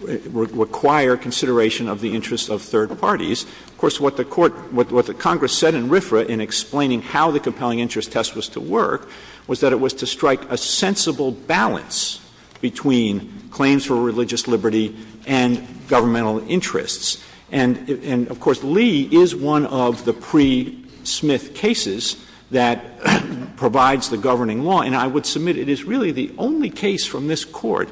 require consideration of the interest of third parties. Of course, what the Congress said in RFRA in explaining how the compelling interest test was to work was that it was to strike a sensible balance between claims for religious liberty and governmental interests. And, of course, Lee is one of the pre-Smith cases that provides the governing law. And I would submit it is really the only case from this Court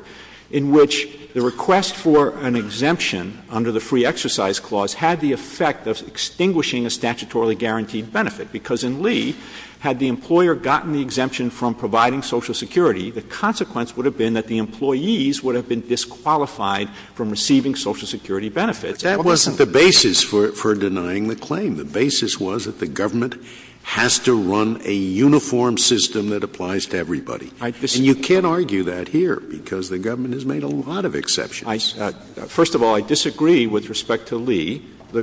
in which the request for an exemption under the Free Exercise Clause had the effect of extinguishing a statutorily guaranteed benefit. Because in Lee, had the employer gotten the exemption from providing Social Security, the consequence would have been that the employees would have been disqualified from receiving Social Security benefits. That wasn't the basis for denying the claim. The basis was that the government has to run a uniform system that applies to everybody. And you can't argue that here because the government has made a lot of exceptions. First of all, I disagree with respect to Lee.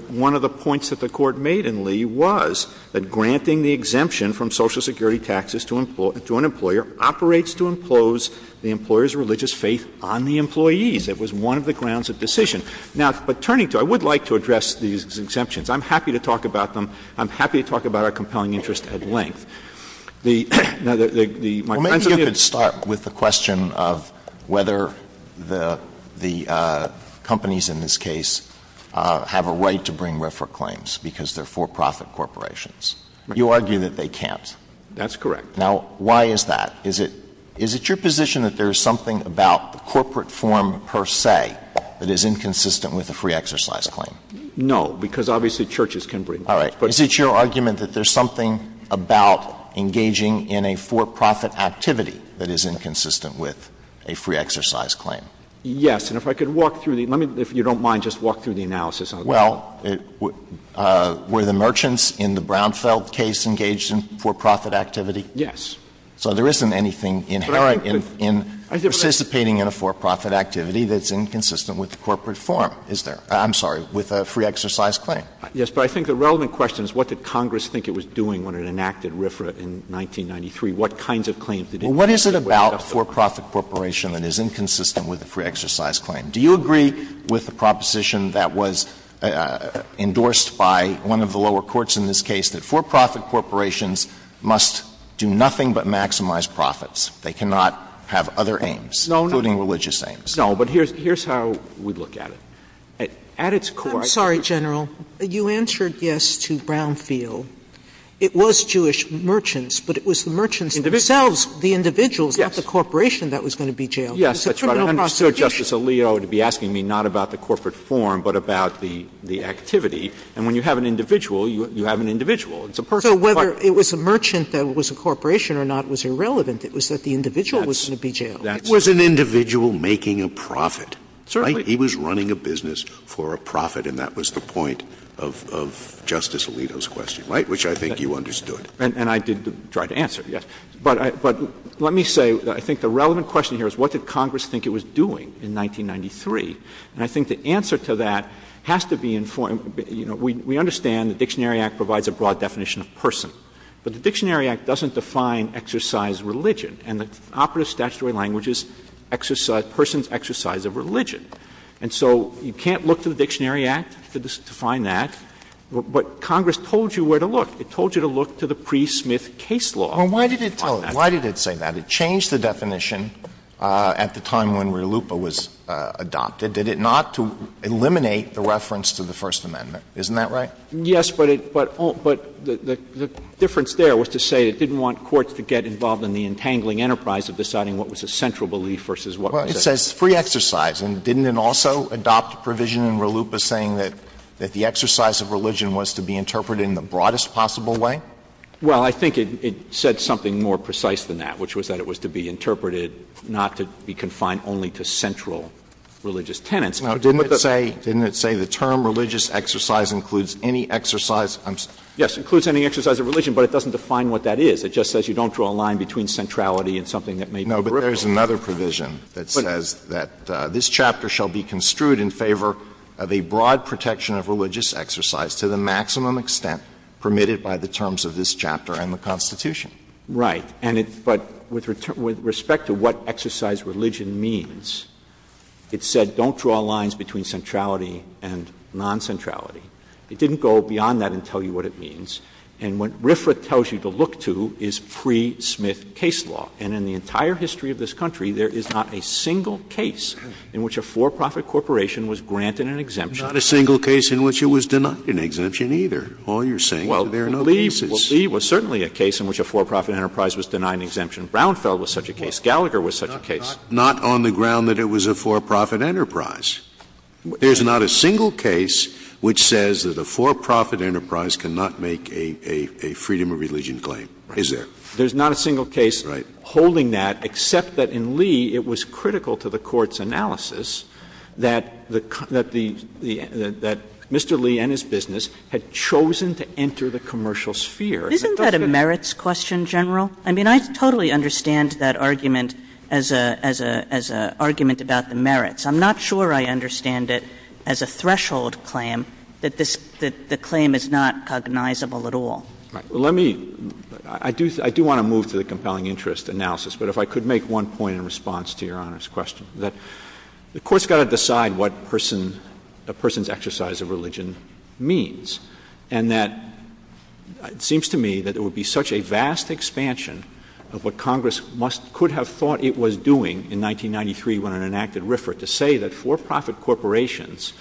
One of the points that the Court made in Lee was that granting the exemption from Social Security taxes to an employer operates to impose the employer's religious faith on the employees. It was one of the grounds of decision. Now, but turning to it, I would like to address these exemptions. I'm happy to talk about them. I'm happy to talk about our compelling interest at length. The — Well, maybe you could start with the question of whether the companies in this case have a right to bring refer claims because they're for-profit corporations. You argue that they can't. That's correct. Now, why is that? Is it your position that there's something about corporate form per se that is inconsistent with a free exercise claim? No, because obviously churches can bring them. All right. But is it your argument that there's something about engaging in a for-profit activity that is inconsistent with a free exercise claim? Yes. And if I could walk through the — let me — if you don't mind, just walk through the analysis of it. Well, were the merchants in the Brownfield case engaged in for-profit activity? Yes. So there isn't anything inherent in participating in a for-profit activity that's inconsistent with the corporate form, is there? I'm sorry, with a free exercise claim. Yes. But I think the relevant question is what did Congress think it was doing when it enacted RFRA in 1993? What kinds of claims — Well, what is it about a for-profit corporation that is inconsistent with a free exercise claim? Do you agree with the proposition that was endorsed by one of the lower courts in this case that for-profit corporations must do nothing but maximize profits? They cannot have other aims, including religious aims. No, but here's how we look at it. At its core — I'm sorry, General. You answered yes to Brownfield. It was Jewish merchants, but it was the merchants themselves, the individuals, not the corporation that was going to be jailed. Yes, but I understood Justice Alito to be asking me not about the corporate form but about the activity. And when you have an individual, you have an individual. So whether it was a merchant that was a corporation or not was irrelevant. It was that the individual was going to be jailed. It was an individual making a profit. Certainly. He was running a business for a profit, and that was the point of Justice Alito's question, right, which I think you understood. And I did try to answer, yes. But let me say that I think the relevant question here is what did Congress think it was doing in 1993? And I think the answer to that has to be informed — you know, we understand the Dictionary Act provides a broad definition of person. But the Dictionary Act doesn't define exercise religion. And the operative statutory language is person's exercise of religion. And so you can't look to the Dictionary Act to define that. But Congress told you where to look. It told you to look to the pre-Smith case law. Well, why did it say that? It changed the definition at the time when RLUIPA was adopted. They did not eliminate the reference to the First Amendment. Isn't that right? Yes, but the difference there was to say it didn't want courts to get involved in the entangling enterprise of deciding what was a central belief versus what was a — Well, it says free exercise. And didn't it also adopt a provision in RLUIPA saying that the exercise of religion was to be interpreted in the broadest possible way? Well, I think it said something more precise than that, which was that it was to be interpreted not to be confined only to central religious tenets. Now, didn't it say — didn't it say the term religious exercise includes any exercise — yes, includes any exercise of religion, but it doesn't define what that is. It just says you don't draw a line between centrality and something that may be peripheral. There's another provision that says that this chapter shall be construed in favor of a broad protection of religious exercise to the maximum extent permitted by the terms of this chapter and the Constitution. Right. And it — but with respect to what exercise religion means, it said don't draw lines between centrality and non-centrality. It didn't go beyond that and tell you what it means. And what Riffith tells you to look to is pre-Smith case law. And in the entire history of this country, there is not a single case in which a for-profit corporation was granted an exemption. Not a single case in which it was denied an exemption either. All you're saying is there are no cases. Well, Lee was certainly a case in which a for-profit enterprise was denied an exemption. Brownfell was such a case. Gallagher was such a case. Not on the ground that it was a for-profit enterprise. There's not a single case which says that a for-profit enterprise cannot make a freedom of religion claim, is there? There's not a single case holding that except that in Lee it was critical to the court's analysis that Mr. Lee and his business had chosen to enter the commercial sphere. Isn't that a merits question, General? I mean, I totally understand that argument as an argument about the merits. I'm not sure I understand it as a threshold claim that the claim is not cognizable at all. I do want to move to the compelling interest analysis, but if I could make one point in response to Your Honor's question. The court's got to decide what a person's exercise of religion means. And that it seems to me that it would be such a vast expansion of what Congress could have thought it was doing in 1993 when it enacted RFRA to say that for-profit corporations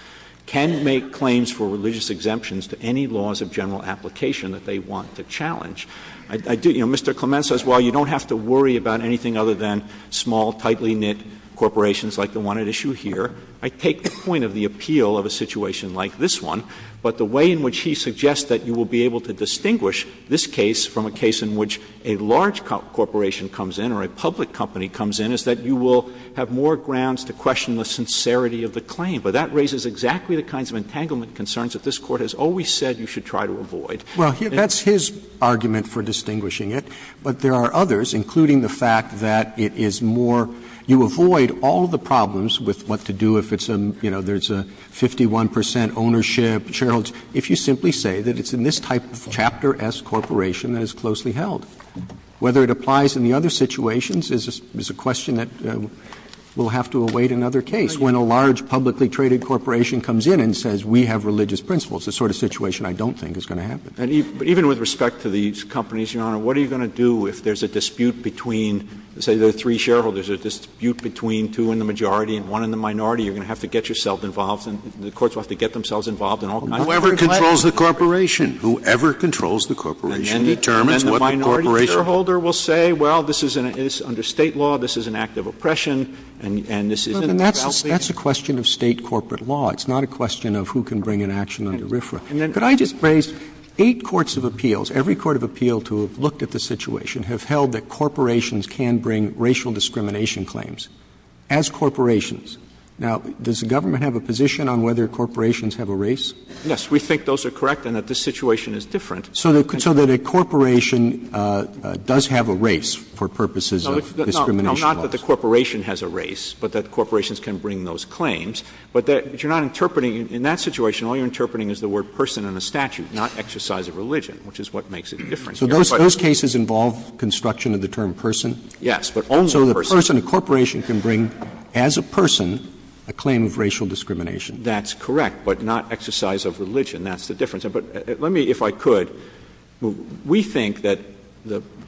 can make claims for religious exemptions to any laws of general application that they want to challenge. You know, Mr. Clement says, well, you don't have to worry about anything other than small, tightly knit corporations like the one at issue here. I take the point of the appeal of a situation like this one, but the way in which he suggests that you will be able to distinguish this case from a case in which a large corporation comes in or a public company comes in is that you will have more grounds to question the sincerity of the claim. But that raises exactly the kinds of entanglement concerns that this Court has always said you should try to avoid. Well, that's his argument for distinguishing it. But there are others, including the fact that it is more, you avoid all the problems with what to do if it's a, you know, there's a 51% ownership, if you simply say that it's in this type of Chapter S corporation that is closely held. Whether it applies in the other situations is a question that we'll have to await another case when a large publicly traded corporation comes in and says we have religious principles, the sort of situation I don't think is going to happen. But even with respect to these companies, Your Honor, what are you going to do if there's a dispute between, say, the three shareholders, a dispute between two in the majority and one in the minority? You're going to have to get yourself involved and the courts will have to get themselves involved in all kinds of matters. Whoever controls the corporation. Whoever controls the corporation. And the minority shareholder will say, well, this is under state law. This is an act of oppression. And this isn't. That's a question of state corporate law. It's not a question of who can bring an action on the riffraff. But I just raised eight courts of appeals. Every court of appeal to look at the situation have held that corporations can bring racial discrimination claims as corporations. Now, does the government have a position on whether corporations have a race? Yes, we think those are correct and that this situation is different. So that a corporation does have a race for purposes of discrimination. Not that the corporation has a race, but that corporations can bring those claims. But that you're not interpreting in that situation, all you're interpreting is the word person in the statute, not exercise of religion, which is what makes it different. So those cases involve construction of the term person. Yes. So the person, a corporation can bring as a person a claim of racial discrimination. That's correct. But not exercise of religion. That's the difference. But let me, if I could, we think that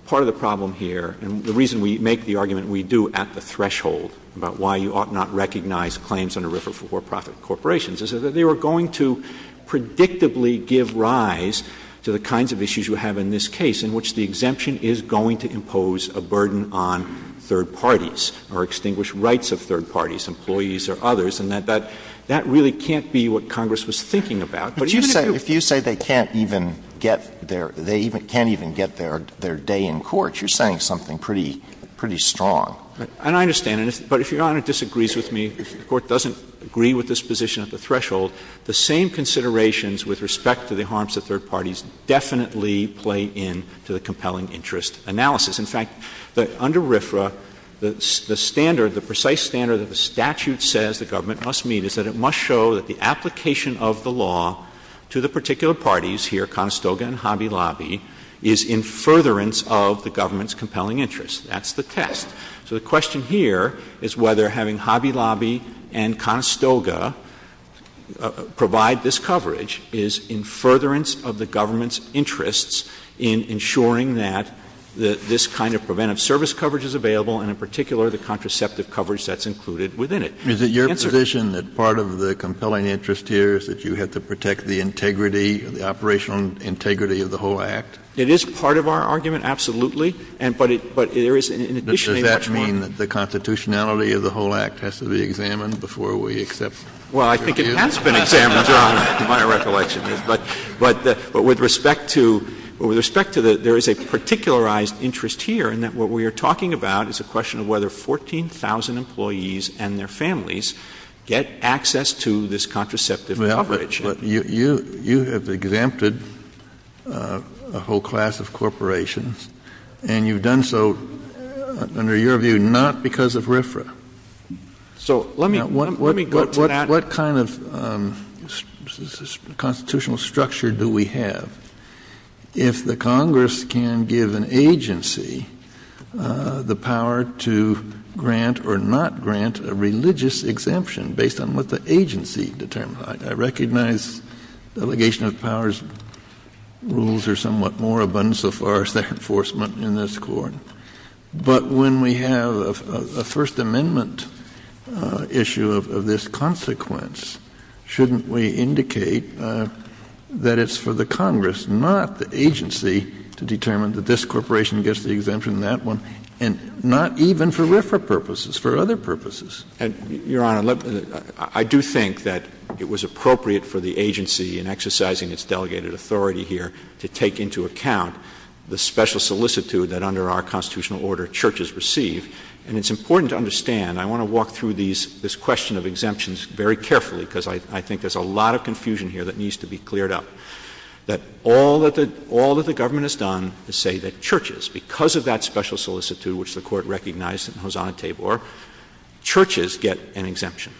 part of the problem here, and the reason we make the argument we do at the threshold about why you ought not recognize claims under Riffraff for for-profit corporations, is that they are going to predictably give rise to the kinds of issues you have in this case in which the exemption is going to impose a burden on third parties or extinguish rights of third parties, employees or others. And that really can't be what Congress was thinking about. If you say they can't even get their day in court, you're saying something pretty strong. And I understand. But if Your Honor disagrees with me, if the Court doesn't agree with this position at the threshold, the same considerations with respect to the harms of third parties definitely play into the compelling interest analysis. In fact, under Riffraff, the standard, the precise standard that the statute says the government must meet is that it must show that the application of the law to the particular parties here, Conestoga and Hobby Lobby, is in furtherance of the government's compelling interest. That's the test. So the question here is whether having Hobby Lobby and Conestoga provide this coverage is in furtherance of the government's interests in ensuring that this kind of preventive service coverage is available, and in particular the contraceptive coverage that's included within it. Is it your position that part of the compelling interest here is that you have to protect the integrity, the operational integrity of the whole act? It is part of our argument, absolutely. Does that mean that the constitutionality of the whole act has to be examined before we accept it? Well, I think it has been examined, to my recollection. But with respect to that, there is a particularized interest here in that what we are talking about is a question of whether 14,000 employees and their families get access to this contraceptive coverage. But you have exempted a whole class of corporations, and you've done so, under your view, not because of RFRA. So let me go to that. What kind of constitutional structure do we have if the Congress can give an agency the power to grant or not grant a religious exemption based on what the agency determines? I recognize delegation of powers rules are somewhat more abundant so far as that enforcement in this court. But when we have a First Amendment issue of this consequence, shouldn't we indicate that it's for the Congress, not the agency, to determine that this corporation gets the exemption in that one, and not even for RFRA purposes, for other purposes? Your Honor, I do think that it was appropriate for the agency in exercising its delegated authority here to take into account the special solicitude that under our constitutional order churches receive. And it's important to understand, I want to walk through this question of exemptions very carefully, because I think there's a lot of confusion here that needs to be cleared up. But all that the government has done is say that churches, because of that special solicitude, which the Court recognized in Hosanna-Tabor, churches get an exemption.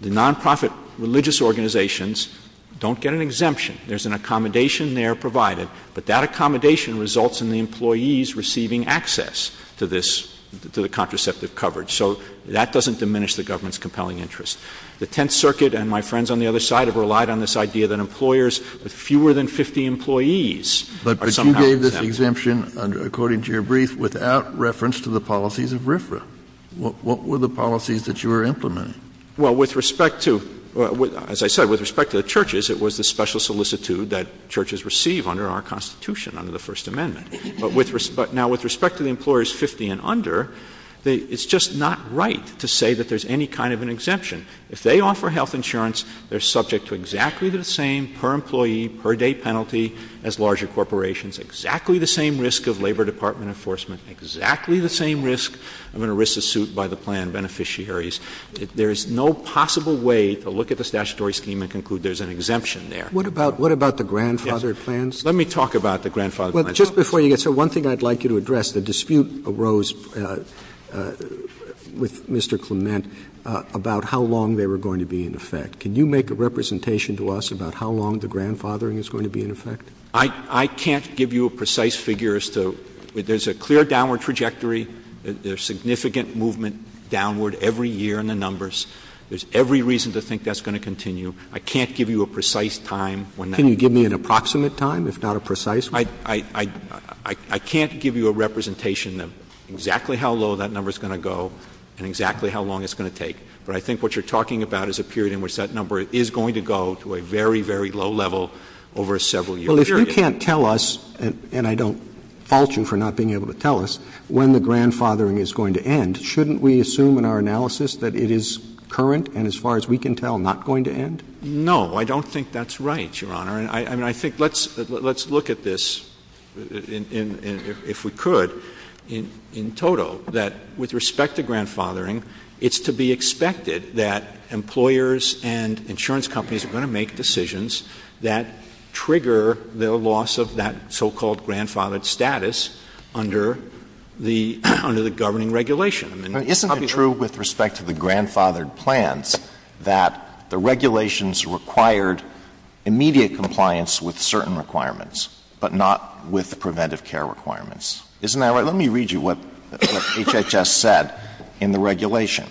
The nonprofit religious organizations don't get an exemption. There's an accommodation there provided, but that accommodation results in the employees receiving access to the contraceptive coverage. So that doesn't diminish the government's compelling interest. The Tenth Circuit and my friends on the other side have relied on this idea that employers with fewer than 50 employees are somehow exempt. But you gave this exemption, according to your brief, without reference to the policies of RFRA. What were the policies that you were implementing? Well, with respect to — as I said, with respect to the churches, it was the special solicitude that churches receive under our Constitution, under the First Amendment. But now with respect to the employers 50 and under, it's just not right to say that there's any kind of an exemption. If they offer health insurance, they're subject to exactly the same per-employee, per-day penalty as larger corporations, exactly the same risk of Labor Department enforcement, exactly the same risk of an arrested suit by the plan beneficiaries. There is no possible way to look at the statutory scheme and conclude there's an exemption there. What about — what about the grandfathered plans? Let me talk about the grandfathered plans. Well, just before you get started, one thing I'd like you to address. The dispute arose with Mr. Clement about how long they were going to be in effect. Can you make a representation to us about how long the grandfathering is going to be in effect? I can't give you a precise figure as to — there's a clear downward trajectory. There's significant movement downward every year in the numbers. There's every reason to think that's going to continue. I can't give you a precise time. Can you give me an approximate time, if not a precise one? I can't give you a representation of exactly how low that number is going to go and exactly how long it's going to take. But I think what you're talking about is a period in which that number is going to go to a very, very low level over a several-year period. Well, if you can't tell us — and I don't fault you for not being able to tell us — when the grandfathering is going to end, shouldn't we assume in our analysis that it is current and, as far as we can tell, not going to end? No, I don't think that's right, Your Honor. I mean, I think let's look at this, if we could, in total, that with respect to grandfathering, it's to be expected that employers and insurance companies are going to make decisions that trigger the loss of that so-called grandfathered status under the governing regulation. Isn't it true with respect to the grandfathered plans that the regulations required immediate compliance with certain requirements, but not with the preventive care requirements? Isn't that right? Let me read you what HHS said in the regulation.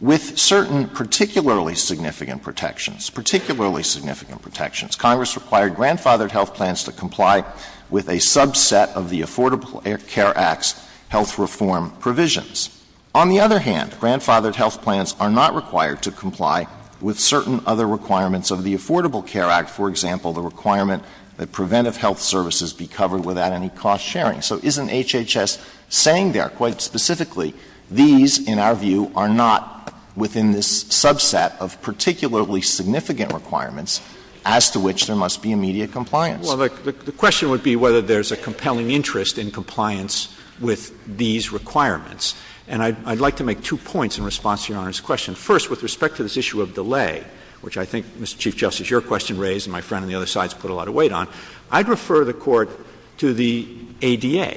With certain particularly significant protections, particularly significant protections, Congress required grandfathered health plans to comply with a subset of the Affordable Care Act's health reform provisions. On the other hand, grandfathered health plans are not required to comply with certain other requirements of the Affordable Care Act, for example, the requirement that preventive health services be covered without any cost sharing. So isn't HHS saying there, quite specifically, these, in our view, are not within this subset of particularly significant requirements as to which there must be immediate compliance? Well, the question would be whether there's a compelling interest in compliance with these requirements. And I'd like to make two points in response to Your Honor's question. First, with respect to this issue of delay, which I think, Mr. Chief Justice, your question raised and my friend on the other side has put a lot of weight on, I'd refer the Court to the ADA.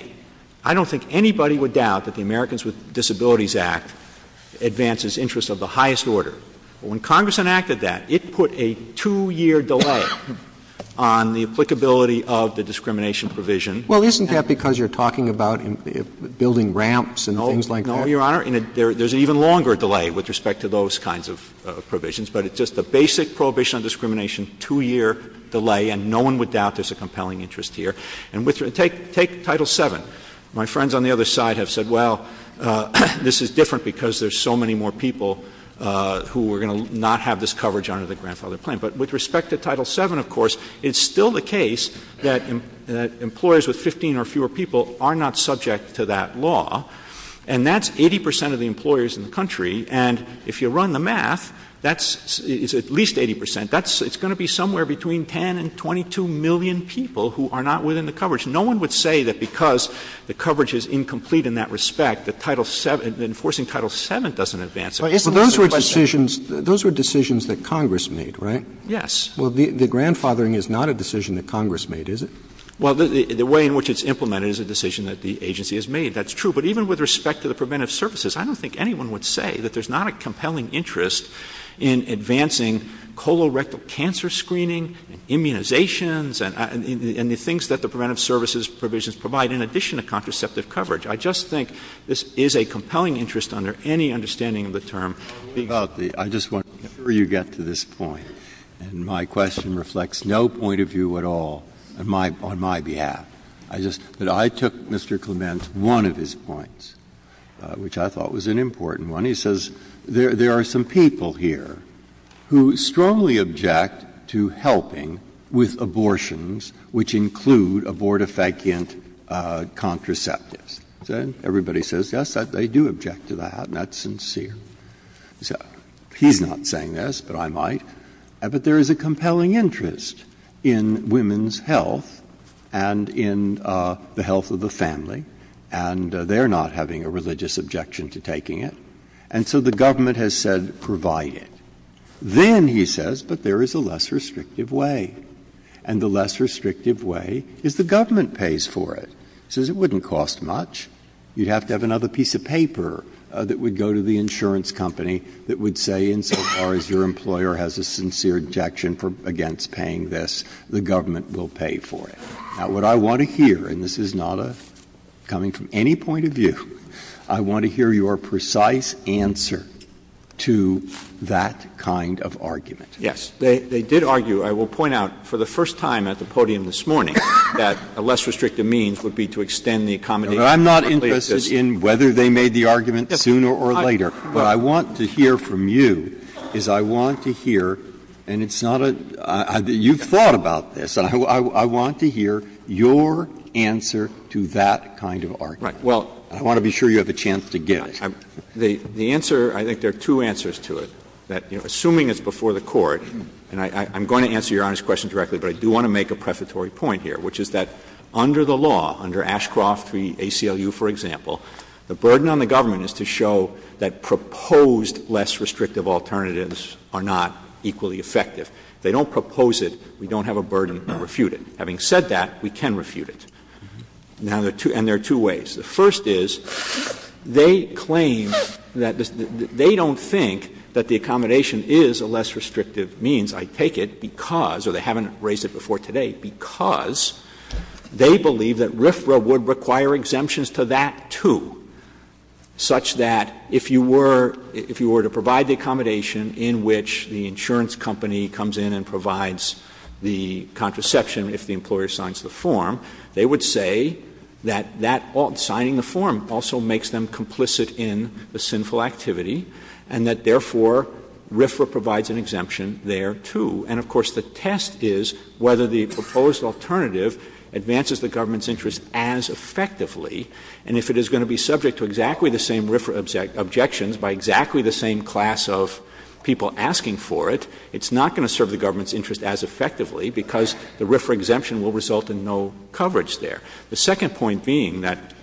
I don't think anybody would doubt that the Americans with Disabilities Act advances interests of the highest order. When Congress enacted that, it put a two-year delay on the applicability of the discrimination provision. Well, isn't that because you're talking about building ramps and all things like that? No, Your Honor. And there's an even longer delay with respect to those kinds of provisions. But it's just a basic prohibition on discrimination, two-year delay, and no one would doubt there's a compelling interest here. And take Title VII. My friends on the other side have said, well, this is different because there's so many more people who are going to not have this coverage under the grandfather plan. But with respect to Title VII, of course, it's still the case that employers with 15 or fewer people are not subject to that law. And that's 80 percent of the employers in the country. And if you run the math, that's at least 80 percent. It's going to be somewhere between 10 and 22 million people who are not within the coverage. No one would say that because the coverage is incomplete in that respect, that Enforcing Title VII doesn't advance it. Those were decisions that Congress made, right? Yes. Well, the grandfathering is not a decision that Congress made, is it? Well, the way in which it's implemented is a decision that the agency has made. That's true. But even with respect to the preventive services, I don't think anyone would say that there's not a compelling interest in advancing colorectal cancer screening, immunizations, and the things that the preventive services provisions provide in addition to contraceptive coverage. I just think this is a compelling interest under any understanding of the term. I just want to make sure you get to this point. And my question reflects no point of view at all on my behalf. I took Mr. Clement's one of his points, which I thought was an important one. He says, there are some people here who strongly object to helping with abortions, which include abortifacient contraceptives. Everybody says, yes, they do object to that. That's sincere. He's not saying this, but I might. But there is a compelling interest in women's health and in the health of the family. And they're not having a religious objection to taking it. And so the government has said, provide it. Then he says, but there is a less restrictive way. And the less restrictive way is the government pays for it. He says, it wouldn't cost much. You'd have to have another piece of paper that would go to the insurance company that would say, insofar as your employer has a sincere objection against paying this, the government will pay for it. Now, what I want to hear, and this is not coming from any point of view, I want to hear your precise answer to that kind of argument. Yes. They did argue, I will point out, for the first time at the podium this morning, that a less restrictive means would be to extend the accommodation. I'm not interested in whether they made the argument sooner or later. What I want to hear from you is I want to hear, and it's not a, you've thought about this. I want to hear your answer to that kind of argument. Well, I want to be sure you have the chance to get it. The answer, I think there are two answers to it. Assuming it's before the court, and I'm going to answer your honest question directly, but I do want to make a prefatory point here, which is that under the law, under Ashcroft v. ACLU, for example, the burden on the government is to show that proposed less restrictive alternatives are not equally effective. If they don't propose it, we don't have a burden to refute it. Having said that, we can refute it. And there are two ways. The first is they claim that they don't think that the accommodation is a less restrictive means, I take it, because, or they haven't raised it before today, because they believe that RFRA would require exemptions to that too, such that if you were to provide the accommodation in which the insurance company comes in and provides the contraception if the employer signs the form, they would say that signing the form also makes them complicit in the sinful activity, and that, therefore, RFRA provides an exemption there too. And, of course, the test is whether the proposed alternative advances the government's interest as effectively. And if it is going to be subject to exactly the same RFRA objections by exactly the same class of people asking for it, it's not going to serve the government's interest as effectively because the RFRA exemption will result in no coverage there. The second point being that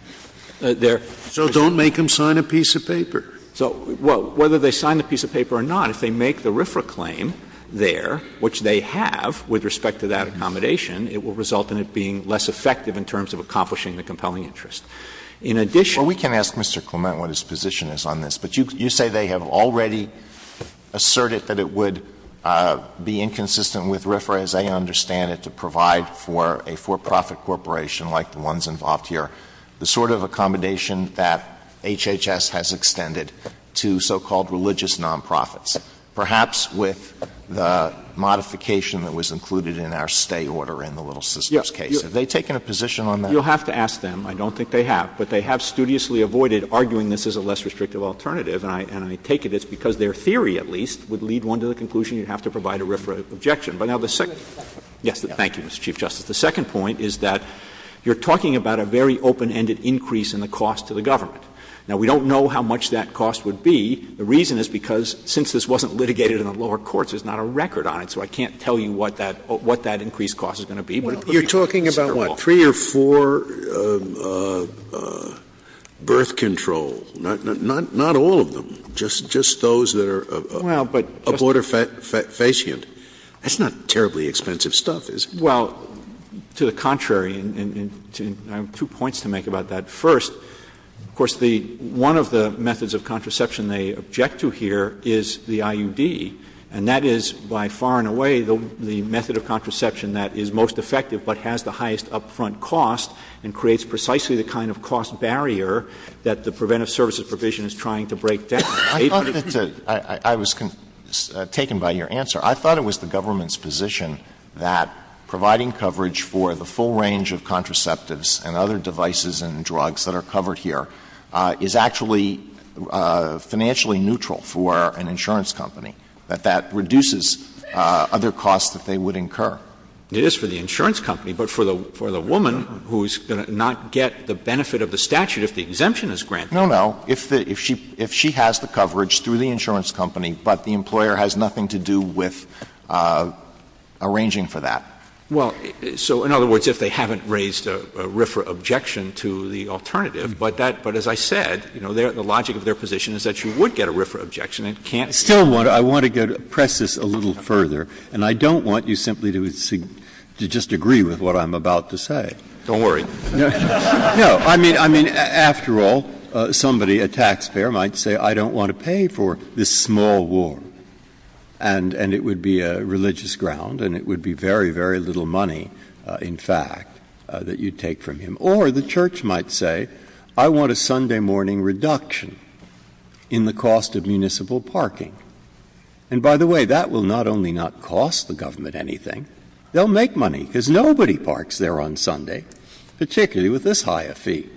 there — So don't make them sign a piece of paper. So whether they sign the piece of paper or not, if they make the RFRA claim there, which they have with respect to that accommodation, it will result in it being less effective in terms of accomplishing the compelling interest. In addition — Well, we can ask Mr. Clement what his position is on this. But you say they have already asserted that it would be inconsistent with RFRA as they understand it to provide for a for-profit corporation like the ones involved here the sort of accommodation that HHS has extended to so-called religious nonprofits, perhaps with the modification that was included in our stay order in the Little Sisters case. Yes. Have they taken a position on that? You'll have to ask them. I don't think they have. But they have studiously avoided arguing this is a less restrictive alternative. And I take it it's because their theory, at least, would lead one to the conclusion you have to provide a RFRA objection. But now the second — Yes. Thank you, Mr. Chief Justice. The second point is that you're talking about a very open-ended increase in the cost to the government. Now, we don't know how much that cost would be. The reason is because since this wasn't litigated in the lower courts, there's not a record on it, so I can't tell you what that increased cost is going to be. You're talking about, what, three or four birth control, not all of them, just those that are abort or facient. That's not terribly expensive stuff, is it? Well, to the contrary, and I have two points to make about that. First, of course, one of the methods of contraception they object to here is the IUB, and that is by far and away the method of contraception that is most effective but has the highest up-front cost and creates precisely the kind of cost barrier that the preventive services provision is trying to break down. I was taken by your answer. I thought it was the government's position that providing coverage for the full range of contraceptives and other devices and drugs that are covered here is actually financially neutral for an insurance company, that that reduces other costs that they would incur. It is for the insurance company, but for the woman who's going to not get the benefit of the statute if the exemption is granted. No, no, if she has the coverage through the insurance company, but the employer has nothing to do with arranging for that. Well, so in other words, if they haven't raised a RFRA objection to the alternative, but as I said, the logic of their position is that you would get a RFRA objection. I want to press this a little further, and I don't want you simply to just agree with what I'm about to say. Don't worry. No, I mean, after all, somebody, a taxpayer might say, I don't want to pay for this small ward. And it would be a religious ground, and it would be very, very little money, in fact, that you'd take from him. Or the church might say, I want a Sunday morning reduction in the cost of municipal parking. And by the way, that will not only not cost the government anything, they'll make money because nobody parks there on Sunday, particularly with this high a fee.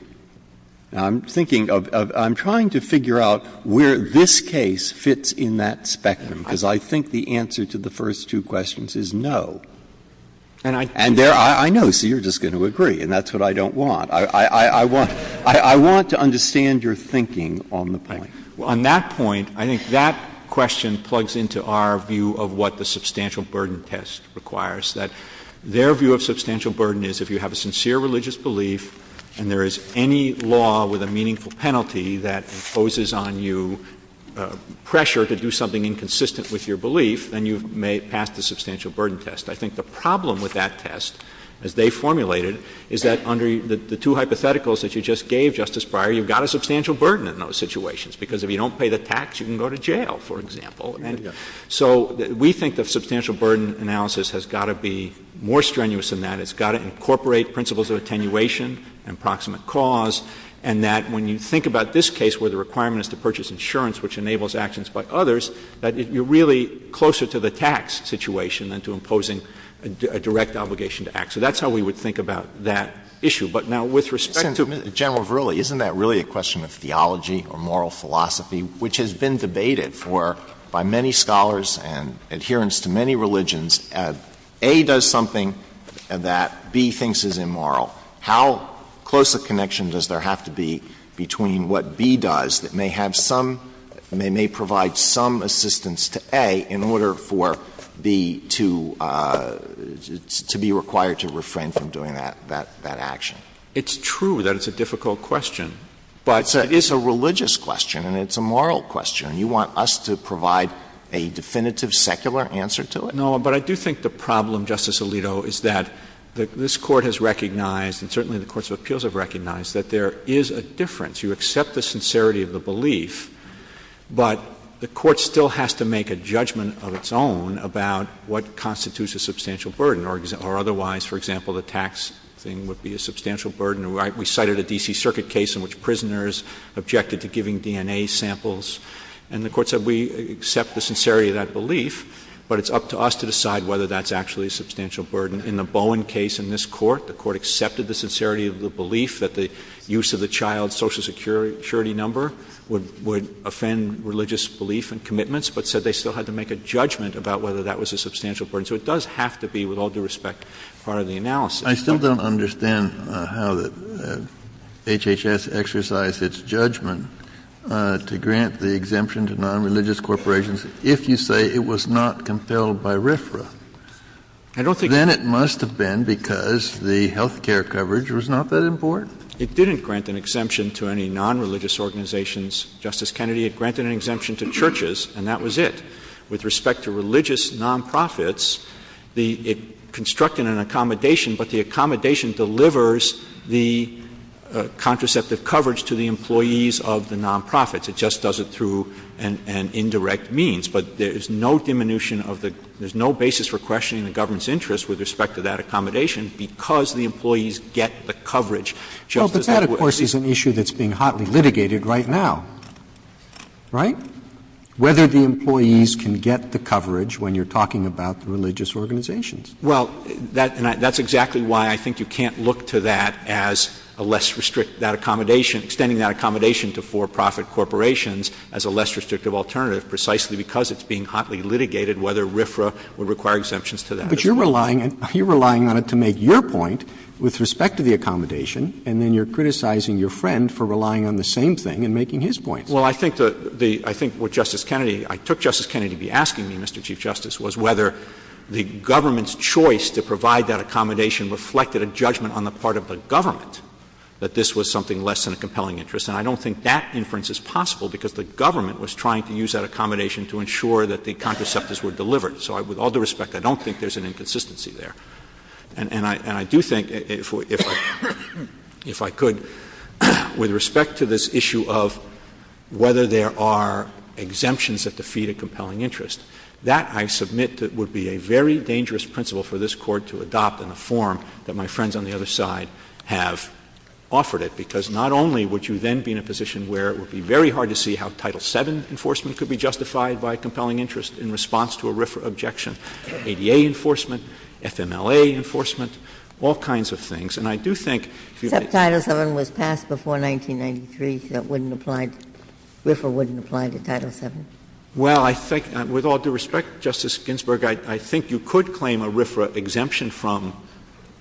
I'm trying to figure out where this case fits in that spectrum, because I think the answer to the first two questions is no. And I know, so you're just going to agree, and that's what I don't want. I want to understand your thinking on the point. On that point, I think that question plugs into our view of what the substantial burden test requires, that their view of substantial burden is if you have a sincere religious belief and there is any law with a meaningful penalty that imposes on you pressure to do something inconsistent with your belief, then you may pass the substantial burden test. I think the problem with that test, as they formulated, is that under the two hypotheticals that you just gave, Justice Breyer, you've got a substantial burden in those situations, because if you don't pay the tax, you can go to jail, for example. And so we think that substantial burden analysis has got to be more strenuous than that. It's got to incorporate principles of attenuation and proximate cause, and that when you think about this case where the requirement is to purchase insurance, which enables actions by others, that you're really closer to the tax situation than to imposing a direct obligation to act. So that's how we would think about that issue. But now with respect to General Verrilli, isn't that really a question of theology or moral philosophy, which has been debated by many scholars and adherents to many religions? If A does something that B thinks is immoral, how close a connection does there have to be between what B does that may provide some assistance to A in order for B to be required to refrain from doing that action? It's true that it's a difficult question. But it is a religious question, and it's a moral question. You want us to provide a definitive secular answer to it? No, but I do think the problem, Justice Alito, is that this Court has recognized and certainly the courts of appeals have recognized that there is a difference. You accept the sincerity of the belief, but the Court still has to make a judgment of its own about what constitutes a substantial burden, or otherwise, for example, the tax thing would be a substantial burden. We cited a D.C. Circuit case in which prisoners objected to giving DNA samples, and the Court said we accept the sincerity of that belief, but it's up to us to decide whether that's actually a substantial burden. In the Bowen case in this Court, the Court accepted the sincerity of the belief that the use of the child's Social Security number would offend religious belief and commitments, but said they still had to make a judgment about whether that was a substantial burden. So it does have to be, with all due respect, part of the analysis. I still don't understand how HHS exercised its judgment to grant the exemption to nonreligious corporations if you say it was not compelled by RFRA. Then it must have been because the health care coverage was not that important. It didn't grant an exemption to any nonreligious organizations, Justice Kennedy. It granted an exemption to churches, and that was it. With respect to religious nonprofits, it constructed an accommodation, but the accommodation delivers the contraceptive coverage to the employees of the nonprofits. It just does it through an indirect means. But there is no diminution of the— there's no basis for questioning the government's interest with respect to that accommodation because the employees get the coverage just as that would. But that, of course, is an issue that's being hotly litigated right now, right? Whether the employees can get the coverage when you're talking about religious organizations. Well, that's exactly why I think you can't look to that as a less— that accommodation, extending that accommodation to for-profit corporations as a less restrictive alternative precisely because it's being hotly litigated, whether RFRA would require exemptions to that. But you're relying on it to make your point with respect to the accommodation, and then you're criticizing your friend for relying on the same thing and making his point. Well, I think that the—I think what Justice Kennedy— I took Justice Kennedy to be asking me, Mr. Chief Justice, was whether the government's choice to provide that accommodation reflected a judgment on the part of the government that this was something less than a compelling interest. And I don't think that inference is possible because the government was trying to use that accommodation to ensure that the contraceptives were delivered. So with all due respect, I don't think there's an inconsistency there. And I do think, if I could, with respect to this issue of whether there are exemptions that defeat a compelling interest, that I submit would be a very dangerous principle for this Court to adopt in a form that my friends on the other side have offered it, because not only would you then be in a position where it would be very hard to see how Title VII enforcement could be justified by a compelling interest in response to a RFRA objection, ADA enforcement, FMLA enforcement, all kinds of things. And I do think— Except Title VII was passed before 1993, so that wouldn't apply— RFRA wouldn't apply to Title VII. Well, I think—with all due respect, Justice Ginsburg, I think you could claim a RFRA exemption from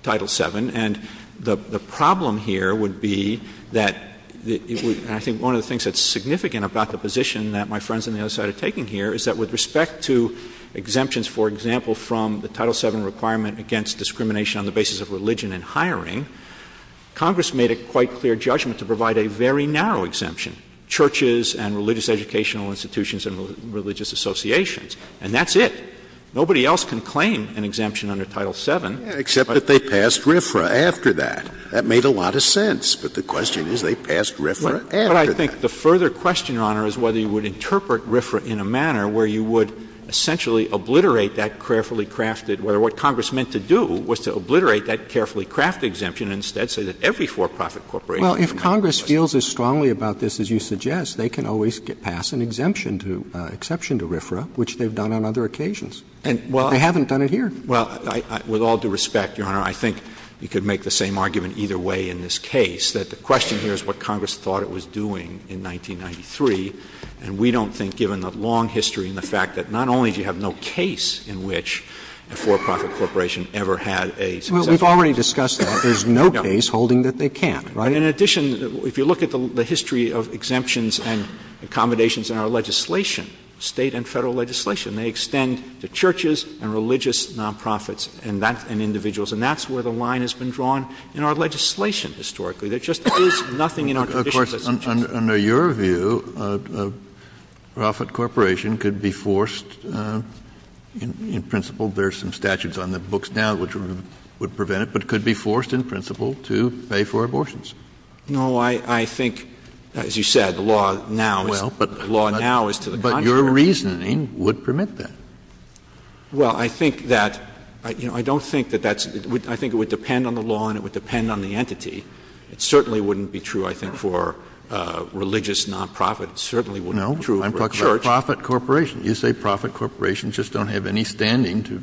Title VII. And the problem here would be that— and I think one of the things that's significant about the position that my friends on the other side have taken here is that with respect to exemptions, for example, from the Title VII requirement against discrimination on the basis of religion and hiring, Congress made a quite clear judgment to provide a very narrow exemption, churches and religious educational institutions and religious associations. And that's it. Nobody else can claim an exemption under Title VII— Except that they passed RFRA after that. That made a lot of sense. But the question is, they passed RFRA after that. Well, I think the further question, Your Honor, is whether you would interpret RFRA in a manner where you would essentially obliterate that carefully crafted— where what Congress meant to do was to obliterate that carefully crafted exemption and instead say that every for-profit corporation— Well, if Congress feels as strongly about this as you suggest, they can always pass an exemption to—exception to RFRA, which they've done on other occasions. They haven't done it here. Well, with all due respect, Your Honor, I think you could make the same argument either way in this case, that the question here is what Congress thought it was doing in 1993. And we don't think, given the long history and the fact that not only do you have no case in which a for-profit corporation ever had a— Well, we've already discussed that. There's no case holding that they can't, right? In addition, if you look at the history of exemptions and accommodations in our legislation, state and federal legislation, they extend to churches and religious nonprofits and individuals. And that's where the line has been drawn in our legislation historically. There just is nothing in our tradition that says— Under your view, a for-profit corporation could be forced in principle— there are some statutes on the books now which would prevent it— but could be forced in principle to pay for abortions. No, I think, as you said, the law now is to the contrary. But your reasoning would permit that. Well, I think that—I don't think that that's— It certainly wouldn't be true, I think, for religious nonprofits. It certainly wouldn't be true for a church. No, I'm talking about for-profit corporations. You say for-profit corporations just don't have any standing to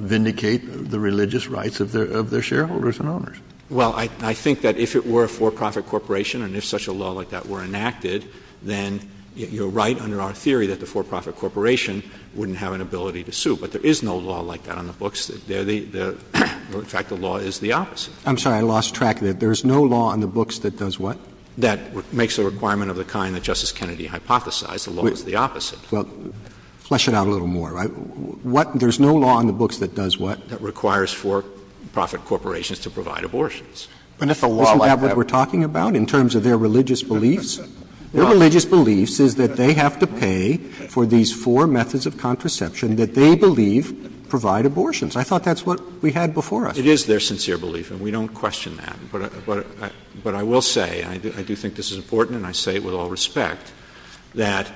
vindicate the religious rights of their shareholders and owners. Well, I think that if it were a for-profit corporation and if such a law like that were enacted, then you're right in our theory that the for-profit corporation wouldn't have an ability to sue. But there is no law like that on the books. In fact, the law is the opposite. I'm sorry, I lost track. There is no law on the books that does what? That makes a requirement of the kind that Justice Kennedy hypothesized. The law is the opposite. Well, flesh it out a little more, right? There's no law on the books that does what? That requires for-profit corporations to provide abortions. Isn't that what we're talking about in terms of their religious beliefs? Their religious beliefs is that they have to pay for these four methods of contraception that they believe provide abortions. I thought that's what we had before us. It is their sincere belief, and we don't question that. But I will say, and I do think this is important, and I say it with all respect, that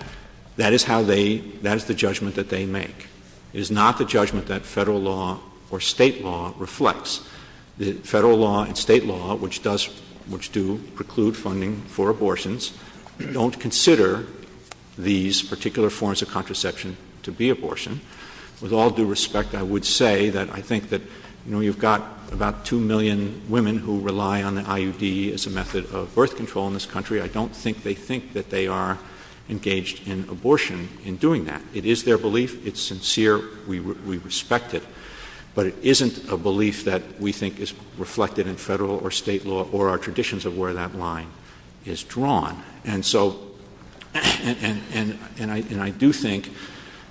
that is the judgment that they make. It is not the judgment that federal law or state law reflects. Federal law and state law, which do preclude funding for abortions, don't consider these particular forms of contraception to be abortion. With all due respect, I would say that I think that, you know, you've got about 2 million women who rely on the IUD as a method of birth control in this country. I don't think they think that they are engaged in abortion in doing that. It is their belief. It's sincere. We respect it. But it isn't a belief that we think is reflected in federal or state law or our traditions of where that line is drawn. And so, and I do think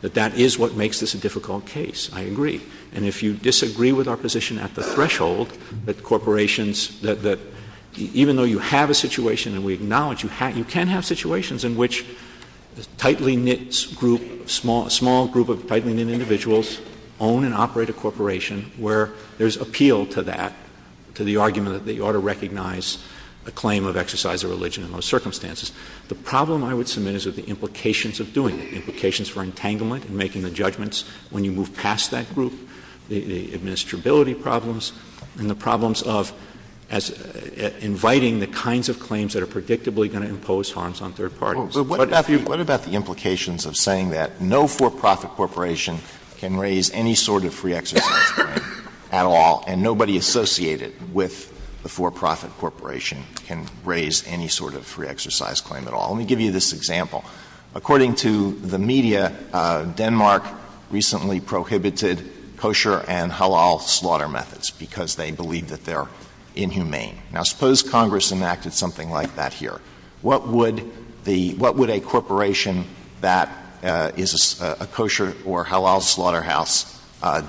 that that is what makes this a difficult case. I agree. And if you disagree with our position at the threshold that corporations, that even though you have a situation, and we acknowledge you can have situations, in which a tightly knit group, a small group of tightly knit individuals own and operate a corporation where there is appeal to that, to the argument that they ought to recognize a claim of exercise of religion in those circumstances. The problem I would submit is with the implications of doing it, the implications for entanglement and making the judgments when you move past that group, the administrability problems, and the problems of inviting the kinds of claims that are predictably going to impose harms on third parties. What about the implications of saying that no for-profit corporation can raise any sort of free exercise claim at all, and nobody associated with the for-profit corporation can raise any sort of free exercise claim at all? Let me give you this example. According to the media, Denmark recently prohibited kosher and halal slaughter methods because they believe that they're inhumane. Now, suppose Congress enacted something like that here. What would a corporation that is a kosher or halal slaughterhouse